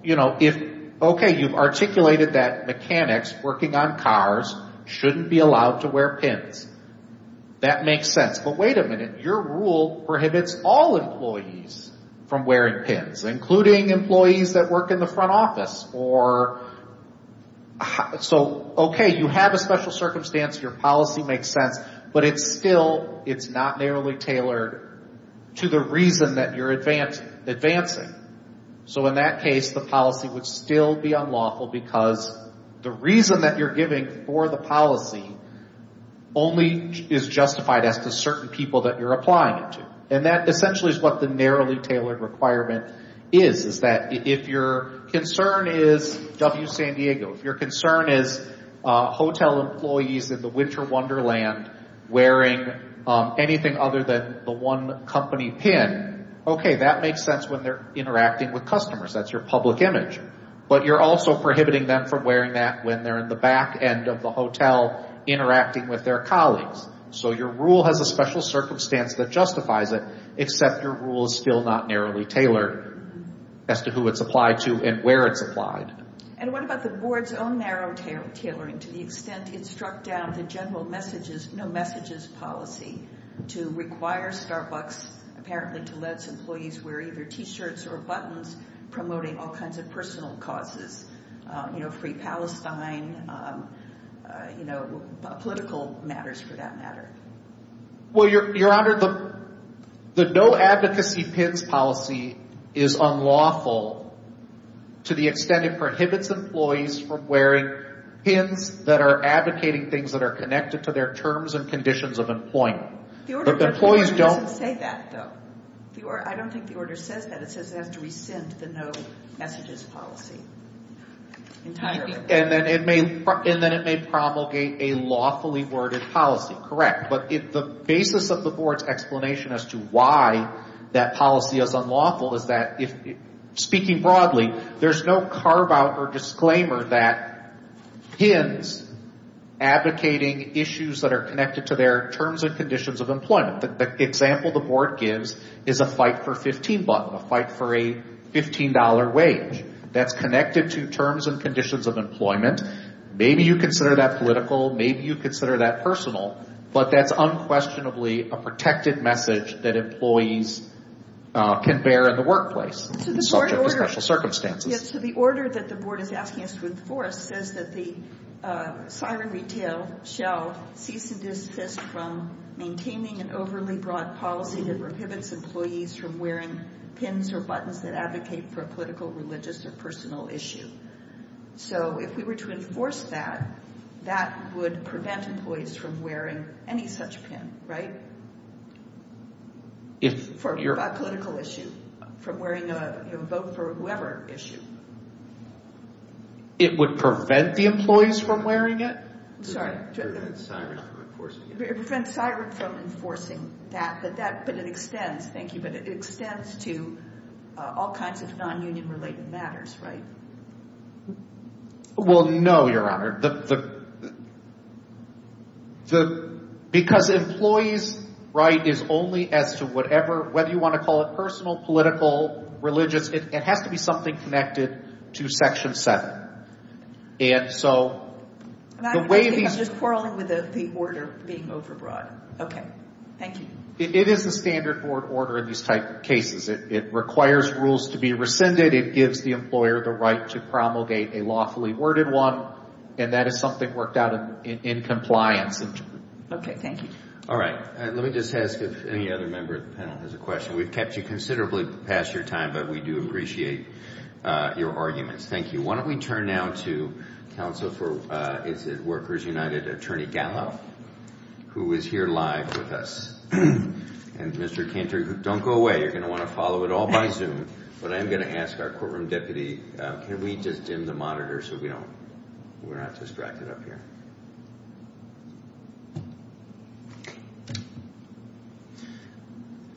okay, you've articulated that mechanics working on cars shouldn't be allowed to wear pins. That makes sense. But wait a minute, your rule prohibits all employees from wearing pins, including employees that work in the front office. So okay, you have a special circumstance, your policy makes sense, but it's still, it's not narrowly tailored to the reason that you're advancing. So in that case, the policy would still be unlawful because the reason that you're giving for the policy only is justified as to certain people that you're applying to. And that essentially is what the narrowly tailored requirement is, is that if your concern is W San Diego, if your concern is hotel employees in the winter wonderland wearing anything other than the one company pin, okay, that makes sense when they're interacting with customers. That's your public image. But you're also prohibiting them from wearing that when they're in the back end of the hotel interacting with their colleagues. So your rule has a special circumstance that justifies it, except your rule is still not narrowly tailored as to who it's applied to and where it's applied. And what about the board's own narrow tailoring? To the extent it struck down the general no messages policy to require Starbucks apparently to let employees wear either t-shirts or buttons promoting all kinds of personal causes. You know, free Palestine, you know, political matters for that matter. Well, Your Honor, the no advocacy pins policy is unlawful to the extent it prohibits employees from wearing pins that are advocating things that are connected to their terms and conditions of employment. But the employees don't say that, though. I don't think the order says that. It says that resents the no messages policy. And then it may promulgate a lawfully worded policy. Correct. But if the basis of the board's explanation as to why that policy is unlawful is that, speaking broadly, there's no carve out or disclaimer that pins advocating issues that are connected to their terms and conditions of employment. The example the board gives is a fight for $15, a fight for a $15 wage. That's connected to terms and conditions of employment. Maybe you consider that political. Maybe you consider that personal. But that's unquestionably a protected message that employees can bear in the workplace. Yes, so the order that the board is asking us to enforce says that the fire and retail shall cease and desist from maintaining an overly broad policy that prohibits employees from wearing pins or buttons that advocate for a political, religious, or personal issue. So if we were to enforce that, that would prevent employees from wearing any such pin, right? For a political issue, from wearing a vote for whoever issue. It would prevent the employees from wearing it? Sorry. It would prevent Cybert from enforcing that, but that could extend, thank you, but it extends to all kinds of non-union related matters, right? Well, no, Your Honor. Because employees' right is only as to whatever, whether you want to call it personal, political, religious, it has to be something connected to Section 7. I'm just quarreling with the order being overbroad. Okay, thank you. It is the standard board order in these types of cases. It requires rules to be rescinded. It gives the employer the right to promulgate a lawfully worded one, and that is something worked out in compliance. Okay, thank you. All right. Let me just ask if any other member of the panel has a question. We've kept you considerably past your time, but we do appreciate your arguments. Thank you. Why don't we turn now to counsel for Workers United, Attorney Gallo, who is here live with us. And Mr. Cantor, don't go away. You're going to want to follow it all by Zoom, but I'm going to ask our courtroom deputy to lead this in the monitor so we don't, we're not distracted up here.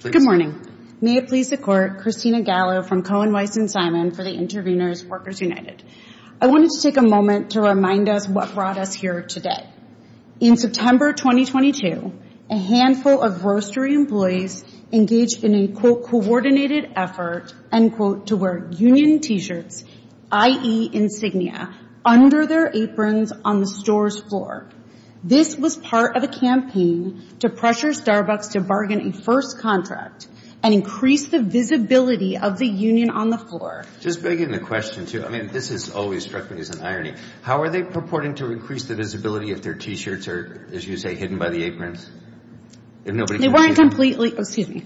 Good morning. May it please the court, Christina Gallo from Cohen, Weiss, and Simon for the interveners, Workers United. I wanted to take a moment to remind us what brought us here today. In September 2022, a handful of grocery employees engaged in a, quote, coordinated effort, end quote, to wear union t-shirts, i.e. insignia, under their aprons on the store's floor. This was part of a campaign to pressure Starbucks to bargain a first contract and increase the visibility of the union on the floor. Just begging the question, too. I mean, this has always struck me as an irony. How are they purporting to increase the visibility if their t-shirts are, as you say, hidden by the aprons? They weren't completely, excuse me,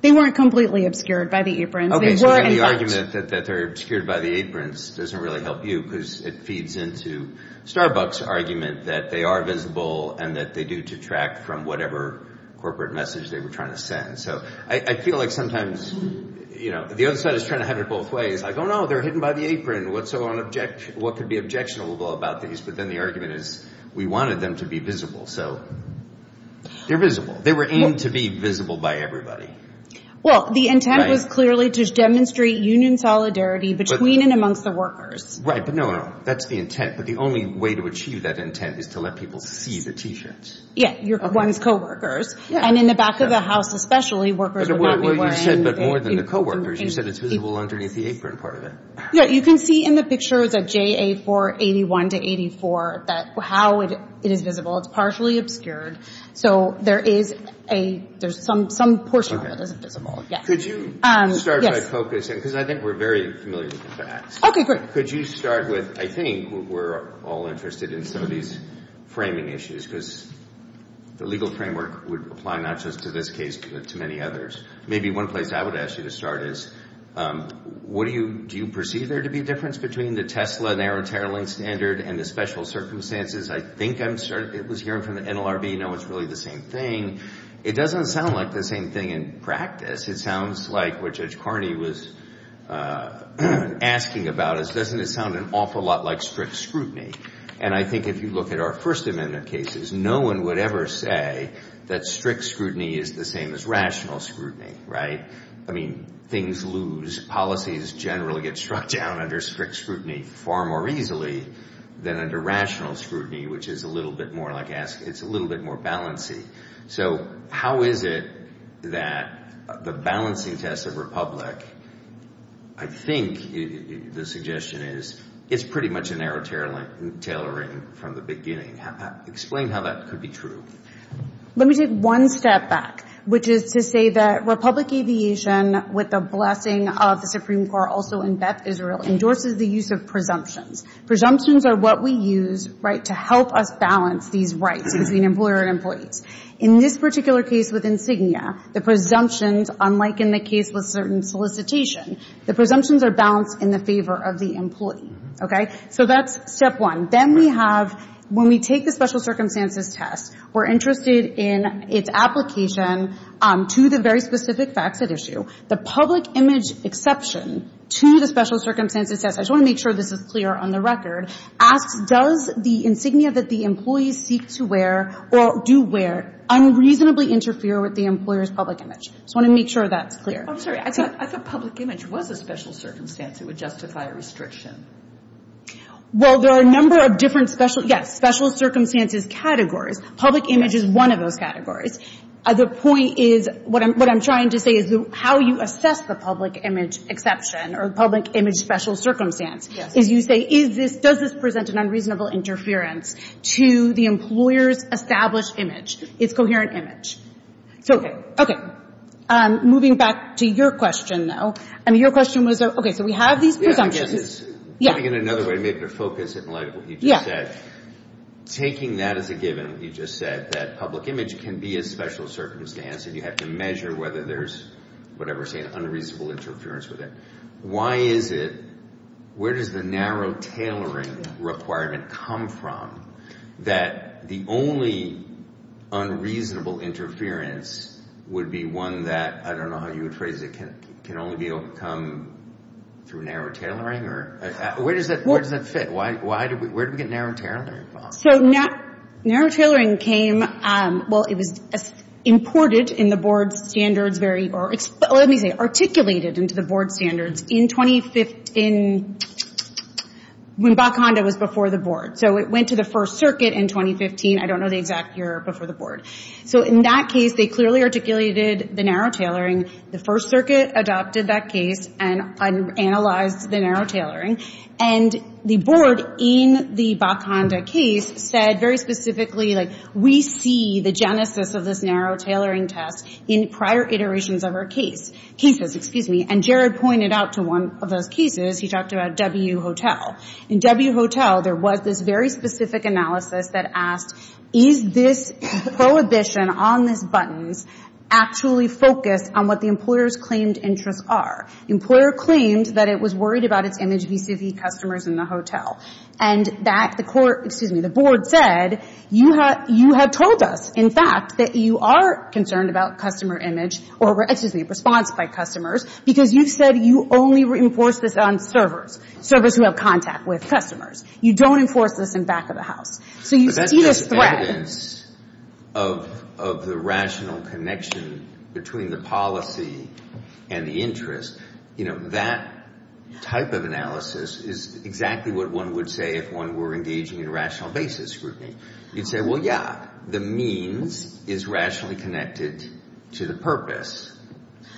they weren't completely obscured by the aprons. Okay, so the argument that they're obscured by the aprons doesn't really help you because it feeds into Starbucks' argument that they are visible and that they do detract from whatever corporate message they were trying to send. So I feel like sometimes, you know, the other side is trying to have it both ways. Oh, no, they're hidden by the apron. What could be objectionable about these? But then the argument is we wanted them to be visible. So they're visible. They were aimed to be visible by everybody. Well, the intent was clearly to demonstrate union solidarity between and amongst the workers. Right, but no, no, that's the intent. But the only way to achieve that intent is to let people see the t-shirts. Yes, you're going with coworkers. And in the back of the house, especially, workers are going to be wearing the t-shirts. Well, you said more than the coworkers. You said it's visible underneath the apron part of it. Yeah, you can see in the pictures of JA481-84 how it is visible. It's partially obscured. So there's some portion that is visible. Could you start by focusing, because I think we're very familiar with the facts. Okay, great. Could you start with, I think we're all interested in some of these framing issues, because the Maybe one place I would ask you to start is, do you perceive there to be a difference between the Tesla and Aaron Terling standard and the special circumstances? I think I'm hearing from the NLRB no one's really the same thing. It doesn't sound like the same thing in practice. It sounds like what Judge Carney was asking about. It doesn't sound an awful lot like strict scrutiny. And I think if you look at our First Amendment cases, no one would ever say that strict scrutiny is the same as rational scrutiny, right? I mean, things lose. Policies generally get struck down under strict scrutiny far more easily than under rational scrutiny, which is a little bit more like ask. It's a little bit more balance-y. So how is it that the balancing test of Republic, I think the suggestion is, it's pretty much an Aaron Terling tailoring from the beginning. Explain how that could be true. Let me take one step back, which is to say that Republic Aviation, with the blessing of the Supreme Court also in Beth Israel, endorses the use of presumptions. Presumptions are what we use to help us balance these rights between employer and employee. In this particular case with Insignia, the presumptions, unlike in the case with certain solicitations, the presumptions are balanced in the favor of the employee. So that's step one. Then we have, when we take the special circumstances test, we're interested in its application to the very specific facts at issue. The public image exception to the special circumstances test, I just want to make sure this is clear on the record, asks does the insignia that the employee seeks to wear or do wear unreasonably interfere with the employer's public image. I just want to make sure that's clear. I'm sorry, I thought public image was a special circumstance. It would justify a restriction. Well, there are a number of different special circumstances categories. Public image is one of those categories. The point is, what I'm trying to say is how you assess the public image exception or public image special circumstance. If you say does this present an unreasonable interference to the employer's established image, its coherent image. Okay, moving back to your question now. I mean, your question was, okay, so we have these presumptions. Yeah. In another way, maybe to focus in like what you just said, taking that as a given, you just said that public image can be a special circumstance and you have to measure whether there's, whatever we're saying, unreasonable interference with it. Why is it, where does the narrow tailoring requirement come from that the only unreasonable interference would be one that, I don't know how you would phrase it, can only be overcome through narrow tailoring? Where does that fit? Where did we get narrow tailoring from? So, narrow tailoring came, well, it was imported in the board standards, or let me say, articulated into the board standards in 2015 when BACONDA was before the board. So, it went to the first circuit in 2015. I don't know the exact year before the board. So, in that case, they clearly articulated the narrow tailoring. The first circuit adopted that case and analyzed the narrow tailoring and the board in the BACONDA case said very specifically that we see the genesis of this narrow tailoring test in prior iterations of our cases. And Jared pointed out to one of our cases, he talked about W Hotel. In W Hotel, there was this very specific analysis that asked, is this prohibition on this button actually focused on what the employer's claimed interests are? The employer claimed that it was worried about its image vis-a-vis customers in the hotel. And the board said, you have told us, in fact, that you are concerned about customer image or response by customers because you said you only reinforce this on servers, servers who have contact with customers. You don't enforce this in back of the house. But that's just evidence of the rational connection between the policy and the interest. You know, that type of analysis is exactly what one would say if one were engaging in rational basis grouping. You'd say, well, yeah, the means is rationally connected to the purpose.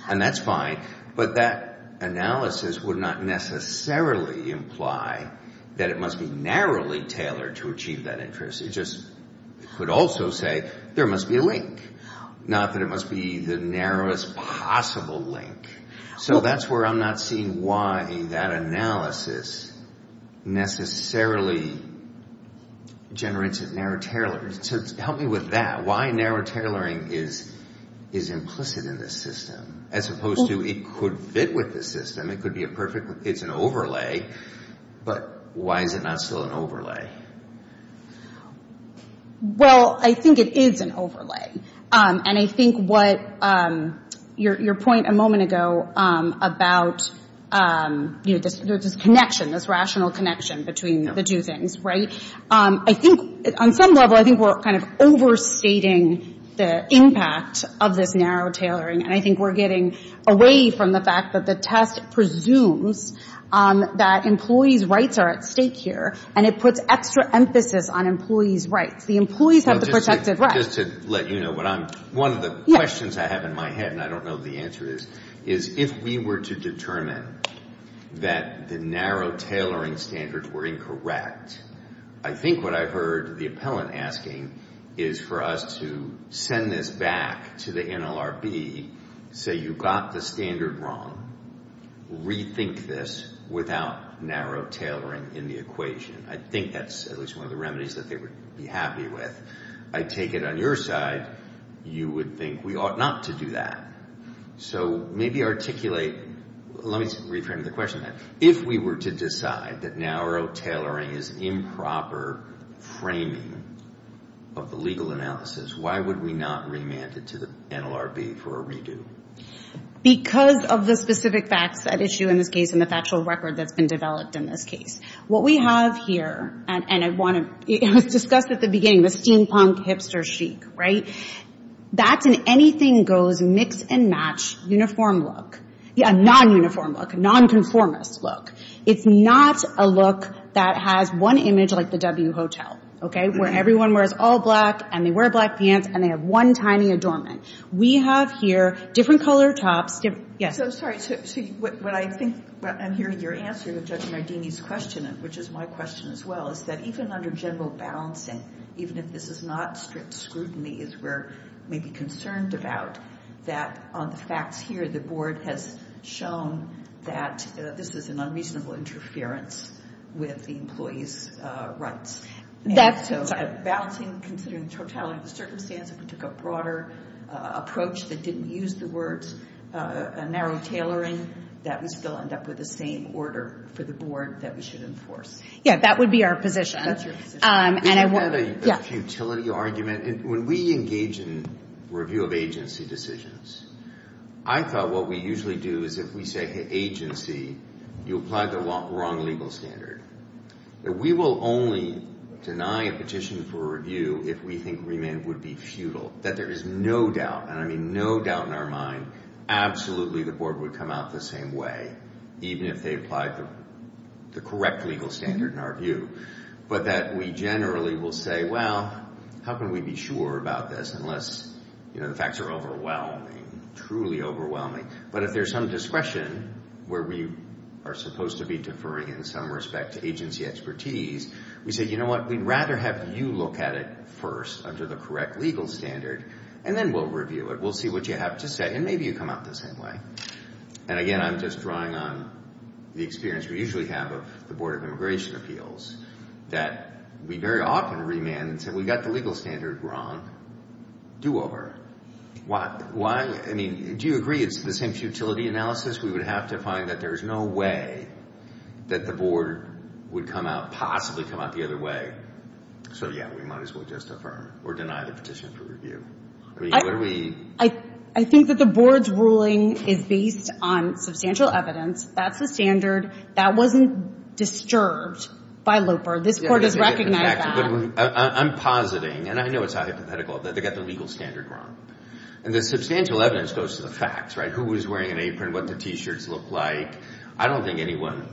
And that's fine, but that analysis would not necessarily imply that it must be narrowly tailored to achieve that interest. It just could also say there must be a link, not that it must be the narrowest possible link. So that's where I'm not seeing why that analysis necessarily generates a narrow tailoring. So help me with that, why narrow tailoring is implicit in this system as opposed to it could fit with this system, it could be a perfect, it's an overlay, but why is it not still an overlay? Well, I think it is an overlay. And I think what your point a moment ago about the connection, this rational connection between the two things, right? I think on some level, I think we're kind of overstating the impact of this narrow tailoring. And I think we're getting away from the fact that the test presumes that employees' rights are at stake here, and it puts extra emphasis on employees' rights. The employees have the protected rights. Just to let you know, one of the questions I have in my head, and I don't know the answer to this, is if we were to determine that the narrow tailoring standards were incorrect, I think what I heard the appellant asking is for us to send this back to the NLRB, say you got the standard wrong, rethink this without narrow tailoring in the equation. I think that's at least one of the remedies that they would be happy with. I take it on your side, you would think we ought not to do that. So maybe articulate, let me retrain the question then. If we were to decide that narrow tailoring is improper framing of legal analysis, why would we not remand it to the NLRB for a redo? Because of the specific facts at issue in this case and the factual record that's been developed in this case. What we have here, and it was discussed at the beginning, the steampunk hipster chic, right? That's an anything goes mix and match uniform look. Yeah, non-uniform look, non-conformist look. It's not a look that has one image like the W Hotel, okay, where everyone wears all black and they wear black pants and they have one tiny adornment. We have here different color tops. Yes? So sorry, I'm hearing your answer to Judge Mardini's question, which is my question as well, is that even under general balancing, even if this is not strict scrutiny, it's where we'd be concerned about that on the facts here, the board has shown that this is an unreasonable interference with the employee's rights. That's sorry. Balancing, considering the totality of the circumstances, if we took a broader approach that didn't use the words narrow tailoring, that would still end up with the same order for the board that we should enforce. Yeah, that would be our position. We have heard a futility argument. When we engage in review of agency decisions, I thought what we usually do is if we say agency, you applied the wrong legal standard. We will only deny a petition for review if we think remand would be futile, that there is no doubt, and I mean no doubt in our mind, absolutely the board would come out the same way, even if they applied the correct legal standard in our view. But that we generally will say, well, how can we be sure about this, unless the facts are overwhelming, truly overwhelming. But if there's some discretion where we are supposed to be deferring in some respect to agency expertise, we say, you know what, we'd rather have you look at it first under the correct legal standard, and then we'll review it. We'll see what you have to say, and maybe you come out the same way. And again, I'm just drawing on the experience we usually have of the Board of Immigration Appeals, that we very often remand, so we got the legal standard wrong, do over. Why, I mean, do you agree it's the same futility analysis? We would have to find that there is no way that the board would come out, possibly come out the other way, so yeah, we might as well just affirm or deny the petition for review. I mean, what do we... I think that the board's ruling is based on substantial evidence. That's the standard. That wasn't disturbed by LOPER. This board has recognized that. I'm positing, and I know it's hypothetical, that they got the legal standard wrong. And the substantial evidence goes to the facts, right? Who was wearing an apron, what did the T-shirts look like? I don't think anyone,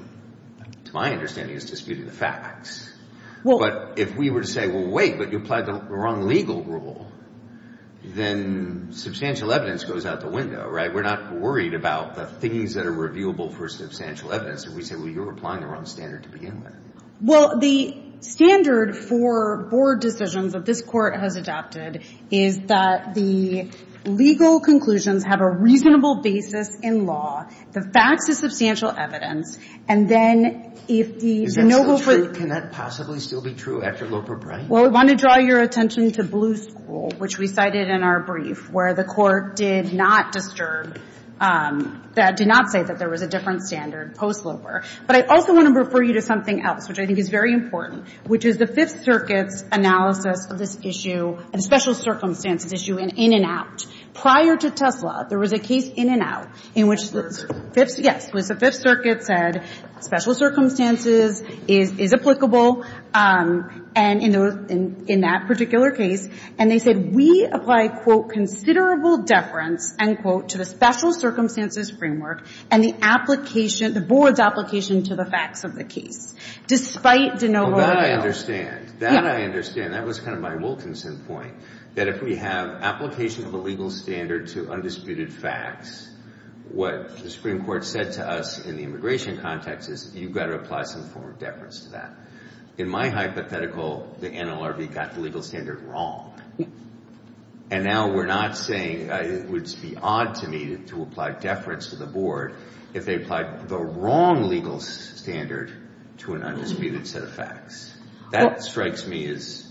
to my understanding, has disputed the facts. But if we were to say, well, wait, but you applied the wrong legal rule, then substantial evidence goes out the window, right? We're not worried about things that are reviewable for substantial evidence. If we say, well, you're applying the wrong standard to begin with. Well, the standard for board decisions that this court has adopted is that the legal conclusions have a reasonable basis in law, the fact is substantial evidence, and then if the... Is that still true? Can that possibly still be true after LOPER practice? Well, we want to draw your attention to Blue School, which we cited in our brief, where the court did not disturb, did not say that there was a different standard post-LOPER. But I also want to refer you to something else, which I think is very important, which is the Fifth Circuit's analysis of this issue, a special circumstances issue, in and out. Prior to TSLA, there was a case in and out in which the Fifth Circuit said, special circumstances is applicable, and in that particular case, and they said, we applied, quote, considerable deference, end quote, to the special circumstances framework and the application, the board's application to the facts of the case, despite the... That I understand. That I understand. That was kind of my Wilkinson point, that if we have application of a legal standard to undisputed facts, what the Supreme Court said to us in the immigration context is, you've got to apply some form of deference to that. In my hypothetical, the NLRB got the legal standard wrong. And now we're not saying it would be odd to me to apply deference to the board if they applied the wrong legal standard to an undisputed set of facts. That strikes me as...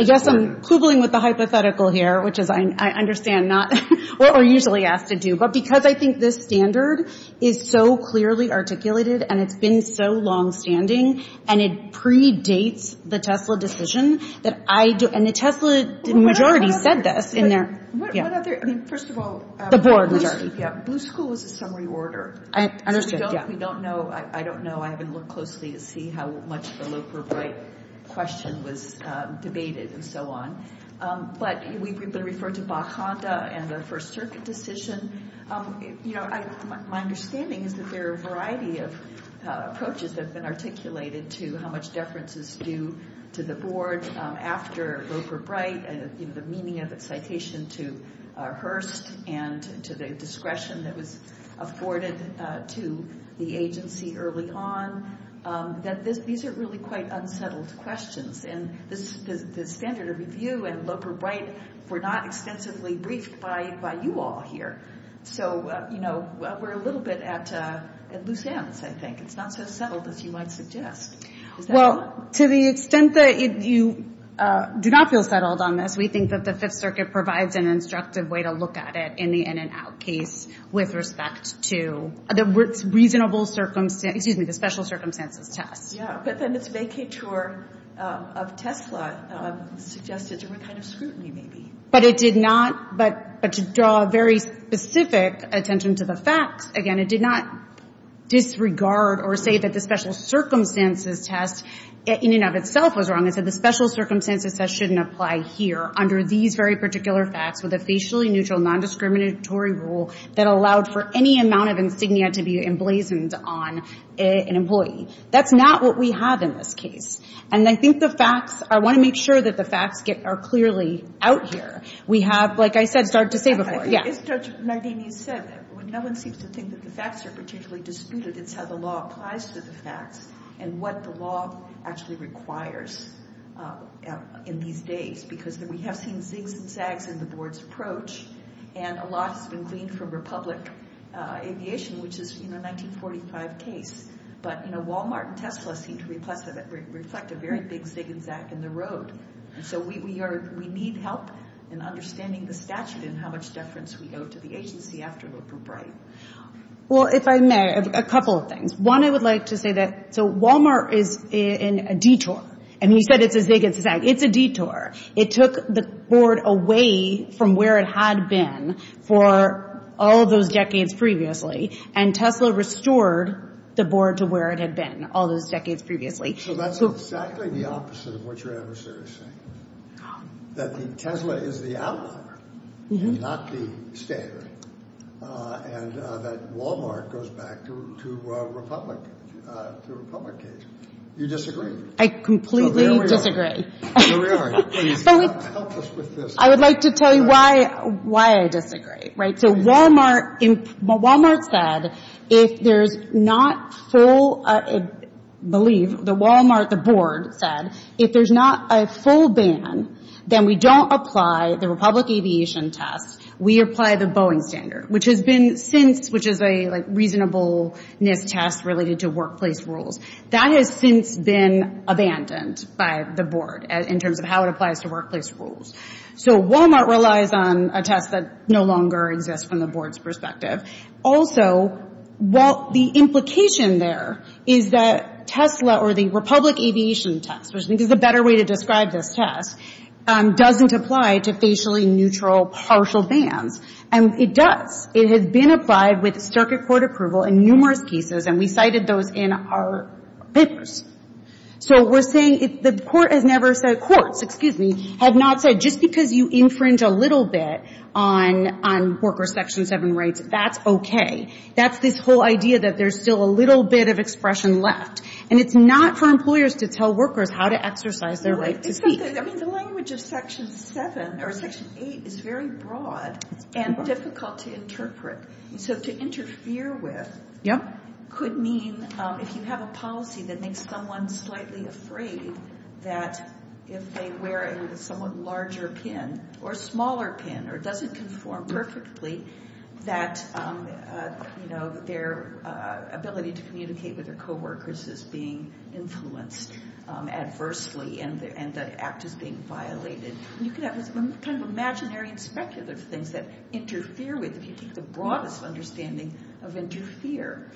I guess I'm quibbling with the hypothetical here, which is I understand not what we're usually asked to do. But because I think this standard is so clearly articulated and it's been so long-standing, and it predates the Tesla decision, and the Tesla majority said this in their... What other... First of all... The board majority. Yeah, whose school is the summary order? I understand, yeah. We don't know. I don't know. I haven't looked closely to see how much the low-profile question was debated and so on. But we've been referred to Baconta and their First Circuit decision. My understanding is that there are a variety of approaches that have been articulated to how much deference is due to the board after Loper-Bright and the meaning of the citation to Hearst and to the discretion that was afforded to the agency early on. These are really quite unsettled questions. The standard of review and Loper-Bright were not extensively reached by you all here. So we're a little bit at loose ends, I think. It's not so settled as you might suggest. Well, to the extent that you do not feel settled on this, we think that the Fifth Circuit provides an instructive way to look at it in the in-and-out case with respect to the special circumstances test. Yeah, but then the vacatur of Tesla suggested a different kind of scrutiny, maybe. But it did not. But to draw a very specific attention to the facts, again, it did not disregard or say that the special circumstances test in and of itself was wrong. It said the special circumstances test shouldn't apply here under these very particular facts with a facially neutral, non-discriminatory rule that allowed for any amount of insignia to be emblazoned on an employee. That's not what we have in this case. And I think the facts, I want to make sure that the facts are clearly out here. We have, like I said, Sarge, to say something. As Judge Nardinian said, when no one seems to think that the facts are particularly disputed, it's how the law applies to the facts and what the law actually requires in these days. Because we have seen zigs and zags in the board's approach, and a lot has been gleaned from Republic Aviation, which has seen a 1945 case. But, you know, Walmart and Tesla seem to reflect a very big zig and zag in the road. And so we need help in understanding the statute and how much deference we owe to the agency after the bribe. Well, if I may, a couple of things. One, I would like to say that, so Walmart is in a detour. And we said it's a zig and a zag. It's a detour. It took the board away from where it had been for all those decades previously, and Tesla restored the board to where it had been all those decades previously. So that's exactly the opposite of what your adversary is saying. That Tesla is the ally, not the scapegoat. And that Walmart goes back to Republic Aviation. Do you disagree? I completely disagree. Really? I would like to tell you why I disagree. So Walmart said if there's not full, I believe, the Walmart, the board said, if there's not a full ban, then we don't apply the Republic Aviation test. We apply the Boeing standard, which has been since, which is a reasonableness test related to workplace rules. That has since been abandoned by the board in terms of how it applies to workplace rules. So Walmart relies on a test that no longer exists from the board's perspective. Also, the implication there is that Tesla or the Republic Aviation test, which I think is a better way to describe this test, doesn't apply to facially neutral partial bans. And it does. It has been applied with circuit court approval in numerous cases, and we cited those in our business. So we're saying the court has never said, quote, excuse me, had not said just because you infringe a little bit on worker Section 7 rights, that's okay. That's this whole idea that there's still a little bit of expression left. And it's not for employers to tell workers how to exercise their rights to speak. The language of Section 7 or Section 8 is very broad and difficult to interpret. So to interfere with could mean if you have a policy that makes someone slightly afraid that if they wear a somewhat larger pin or a smaller pin or it doesn't conform perfectly, that their ability to communicate with their coworkers is being influenced adversely and the act is being violated. And you can have this kind of imaginary perspective of things that interfere with it if you keep the broadest understanding of interfere.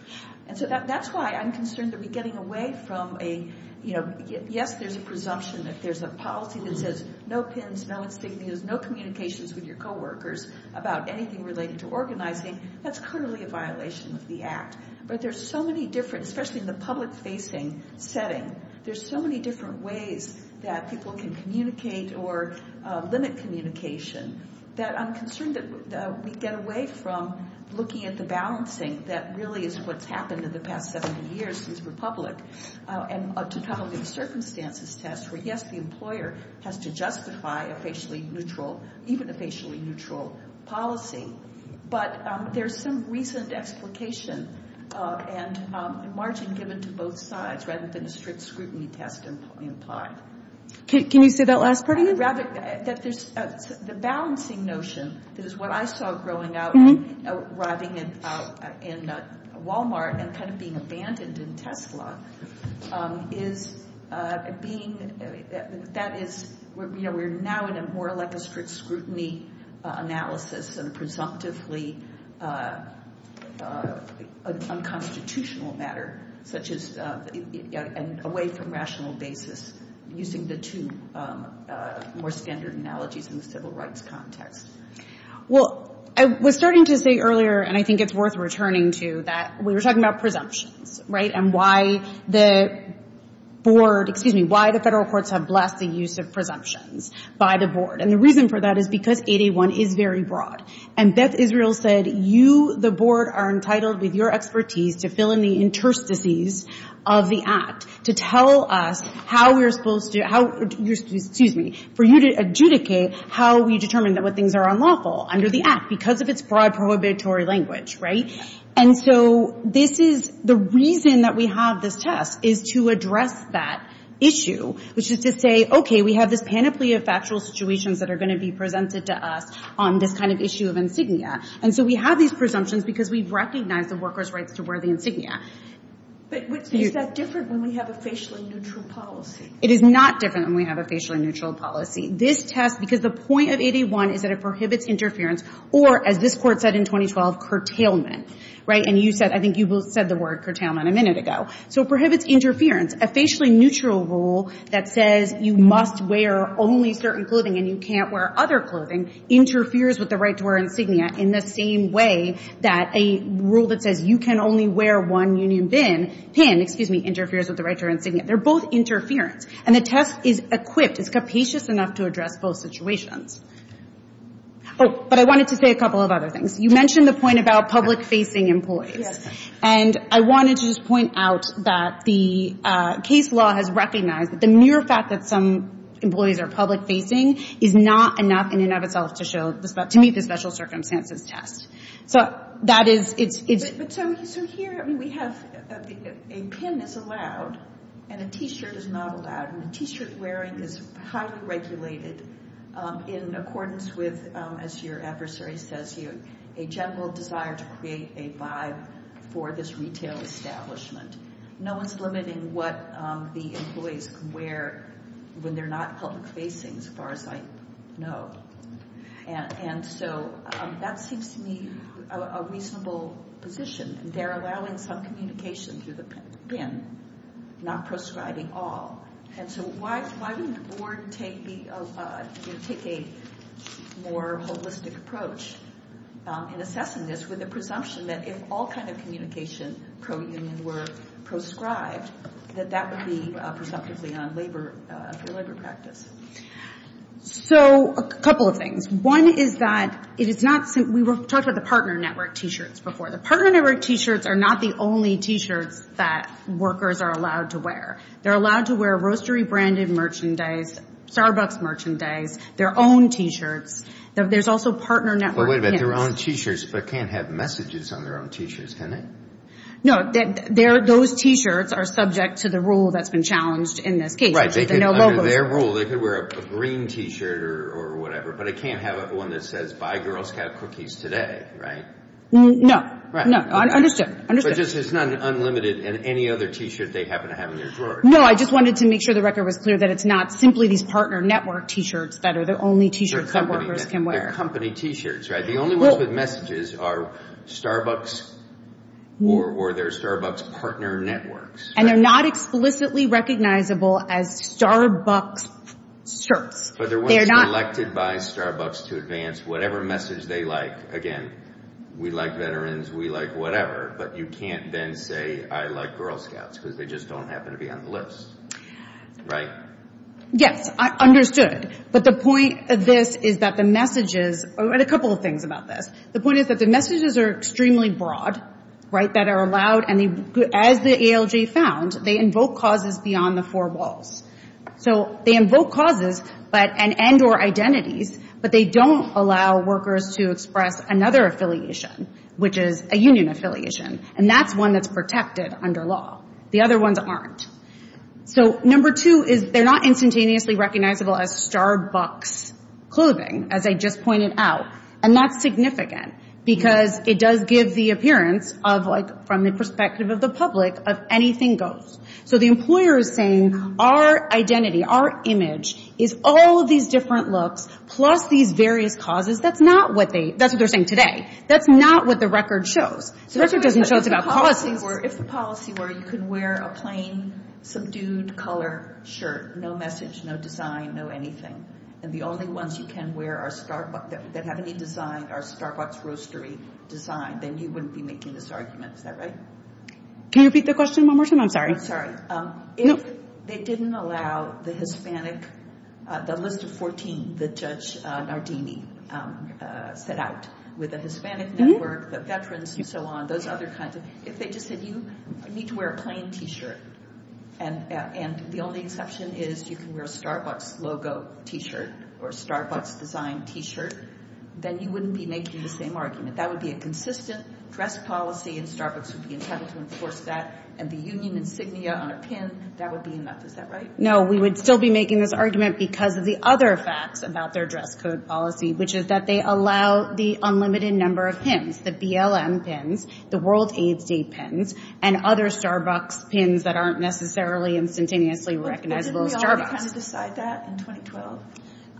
And so that's why I'm concerned that we're getting away from a, you know, yes, there's a presumption that there's a policy that says no pins, no insignias, no communications with your coworkers about anything related to organizing. That's currently a violation of the act. But there's so many different, especially in the public-facing setting, there's so many different ways that people can communicate or limit communication that I'm concerned that we get away from looking at the balancing that really is what's happened in the past several years since Republic and to come up with a circumstances test where, yes, the employer has to justify a facially neutral, even a facially neutral policy. But there's some recent application and a margin given to both sides rather than a strict scrutiny test in what we apply. Can you say that last part again? The balancing notion is what I saw growing up riding in Wal-Mart and kind of being abandoned in Tesla is being, that is, we're now in a more like a strict scrutiny analysis and presumptively unconstitutional matter such as away from rational basis using the two more standard analogies in the civil rights context. Well, I was starting to say earlier, and I think it's worth returning to, that we were talking about presumption, right, and why the board, excuse me, why the federal courts have blessed the use of presumptions by the board. And the reason for that is because 8A1 is very broad. And Beth Israel said you, the board, are entitled with your expertise to fill in the interstices of the act to tell us how we're supposed to, excuse me, for you to adjudicate how we determine that what things are unlawful under the act because of its broad prohibitory language, right? And so this is, the reason that we have this test is to address that issue, which is to say, okay, we have this panoply of factual situations that are going to be presented to us on this kind of issue of insignia. And so we have these presumptions because we recognize the worker's right to wear the insignia. But is that different than we have a facially neutral policy? It is not different than we have a facially neutral policy. This test, because the point of 8A1 is that it prohibits interference or, as this court said in 2012, curtailment, right? And you said, I think you said the word curtailment a minute ago. So it prohibits interference. A facially neutral rule that says you must wear only certain clothing and you can't wear other clothing interferes with the right to wear insignia in the same way that a rule that says you can only wear one union bin can, excuse me, interferes with the right to wear insignia. They're both interference. And the test is equipped, it's capacious enough to address both situations. Oh, but I wanted to say a couple of other things. You mentioned the point about public-facing employees. And I wanted to just point out that the case law has recognized that the mere fact that some employees are public-facing is not enough in and of itself to meet the special circumstances test. So here we have a pin that's allowed and a T-shirt is not allowed and the T-shirt wearing is highly regulated in accordance with, as your adversary says here, a general desire to create a vibe for this retail establishment. No one's limiting what the employees can wear when they're not public-facing as far as I know. And so that seems to me a reasonable position. They're allowing some communication through the pin, not proscribing all. And so why didn't the board take a more holistic approach in assessing this with the presumption that if all kinds of communication per union were proscribed, that that would be presumptively on labor practice? So a couple of things. One is that we talked about the partner network T-shirts before. The partner network T-shirts are not the only T-shirts that workers are allowed to wear. They're allowed to wear grocery-branded merchandise, Starbucks merchandise, their own T-shirts. There's also partner network pins. But wait a minute, their own T-shirts can't have messages on their own T-shirts, can they? No, those T-shirts are subject to the rule that's been challenged in this case. Right, they could wear a green T-shirt or whatever, but it can't have one that says, buy Girl Scout cookies today, right? No. Right. Understood. But this is not an unlimited and any other T-shirt they happen to have in their drawer. No, I just wanted to make sure the record was clear that it's not simply these partner network T-shirts that are the only T-shirts that workers can wear. They're company T-shirts, right? The only ones with messages are Starbucks or their Starbucks partner networks. And they're not explicitly recognizable as Starbucks shirts. But they're not selected by Starbucks to advance whatever message they like. Again, we like veterans, we like whatever, but you can't then say, I like Girl Scouts, because they just don't happen to be on the list, right? Yes, understood. But the point of this is that the messages – and a couple of things about this. The point is that the messages are extremely broad, right, that are allowed, and as the ALJ found, they invoke causes beyond the four walls. So they invoke causes and end or identities, but they don't allow workers to express another affiliation, which is a union affiliation. And that's one that's protected under law. The other ones aren't. So number two is they're not instantaneously recognizable as Starbucks clothing, as I just pointed out. And that's significant, because it does give the appearance of, from the perspective of the public, of anything goes. So the employer is saying, our identity, our image, is all of these different looks, plus these various causes. That's not what they – that's what they're saying today. That's not what the record shows. The record doesn't show us about policy. If the policy were you can wear a plain, subdued color shirt, no message, no design, no anything, and the only ones you can wear are Starbucks that have any design are Starbucks roastery design, then you wouldn't be making this argument, is that right? Can you repeat the question one more time? If they didn't allow the Hispanic – the list of 14 that Judge Nardini set out, with the Hispanic network, the veterans, and so on, those other kinds of – if they just said you need to wear a plain T-shirt, and the only exception is you can wear a Starbucks logo T-shirt or a Starbucks design T-shirt, then you wouldn't be making the same argument. That would be a consistent dress policy, and Starbucks would be entitled to enforce that, and the union insignia on our pins, that would be a mess, is that right? No, we would still be making this argument because of the other facts about their dress code policy, which is that they allow the unlimited number of pins, the BLM pins, the World AIDS Day pins, and other Starbucks pins that aren't necessarily instantaneously recognizable as Starbucks. Didn't we all kind of decide that in 2012?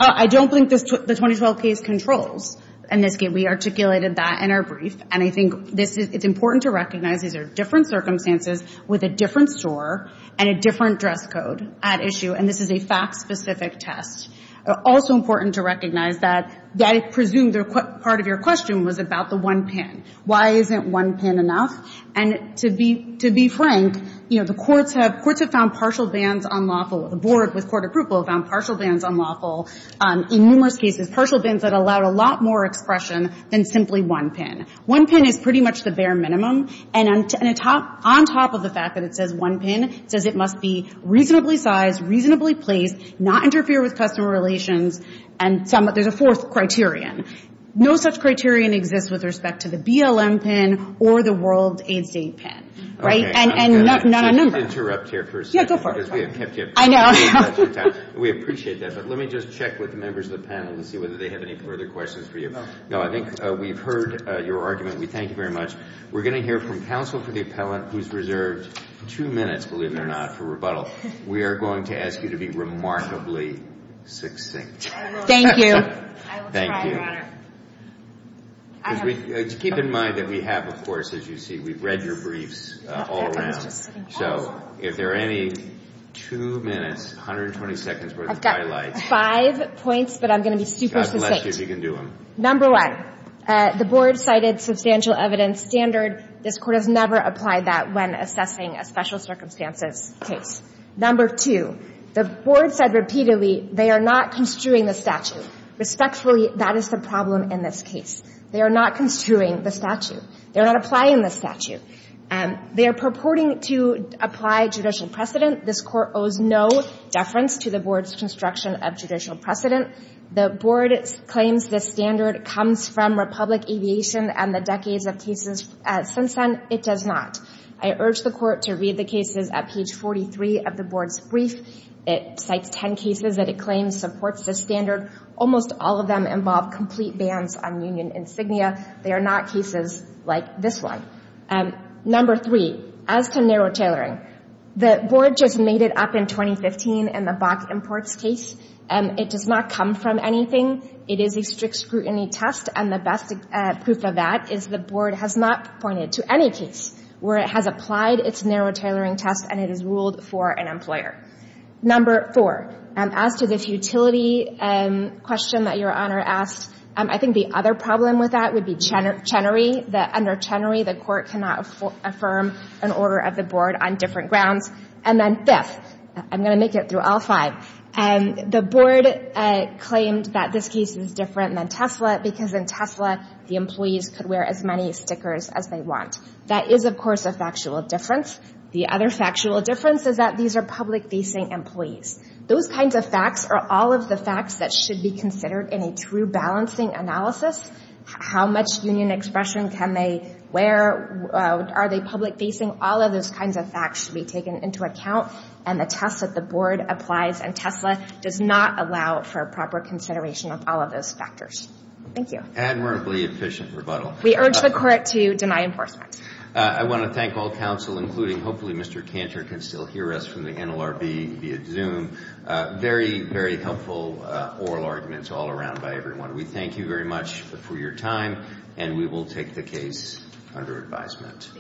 I don't think the 2012 case controls, and we articulated that in our brief, and I think it's important to recognize that there are different circumstances with a different store and a different dress code at issue, and this is a fact-specific test. Also important to recognize that it's presumed that part of your question was about the one pin. Why isn't one pin enough? And to be frank, the courts have found partial bans on lawful – the boards with court approval have found partial bans on lawful in numerous cases, partial bans that allow a lot more expression than simply one pin. One pin is pretty much the bare minimum, and on top of the fact that it says one pin, it says it must be reasonably sized, reasonably placed, not interfere with customer relations, and there's a fourth criterion. No such criterion exists with respect to the BLM pin or the World AIDS Day pin, right? Let me just check with the members of the panel and see whether they have any further questions for you. No, I think we've heard your argument. We thank you very much. We're going to hear from counsel for the appellant who's reserved two minutes, believe it or not, for rebuttal. We are going to ask you to be remarkably succinct. Thank you. Thank you. Keep in mind that we have, of course, as you see, we've read your briefs all around, so if there are any two minutes, 120 seconds worth of highlights. I've got five points, but I'm going to be super succinct. Number one, the board cited substantial evidence standards. This court has never applied that when assessing a special circumstances case. Number two, the board said repeatedly they are not construing the statute. Respectfully, that is the problem in this case. They are not construing the statute. They are not applying the statute. They are purporting to apply judicial precedent. This court owes no deference to the board's construction of judicial precedent. The board claims this standard comes from Republic Aviation and the decades of cases since then. It does not. I urge the court to read the cases at page 43 of the board's brief. It cites ten cases that it claims supports this standard. Almost all of them involve complete bans on union insignia. They are not cases like this one. Number three, as to narrow tailoring, the board just made it up in 2015 in the Bach Imports case. It does not come from anything. It is a strict scrutiny test, and the best proof of that is the board has not pointed to any case where it has applied its narrow tailoring test and it has ruled for an employer. Number four, as to the futility question that your Honor asked, I think the other problem with that would be Chenery, that under Chenery the court cannot affirm an order of the board on different grounds. And then fifth, I'm going to make it through all five, the board claims that this case is different than Tesla because in Tesla the employees could wear as many stickers as they want. That is, of course, a factual difference. The other factual difference is that these are public-facing employees. Those kinds of facts are all of the facts that should be considered in a true balancing analysis. How much union expression can they wear? Are they public-facing? All of those kinds of facts should be taken into account, and the test that the board applies in Tesla does not allow for proper consideration of all of those factors. Thank you. Admirably efficient rebuttal. We urge the court to deny enforcement. I want to thank all counsel, including hopefully Mr. Cantor can still hear us from the NLRB via Zoom. Very, very helpful oral arguments all around by everyone. We thank you very much for your time, and we will take the case under advisement.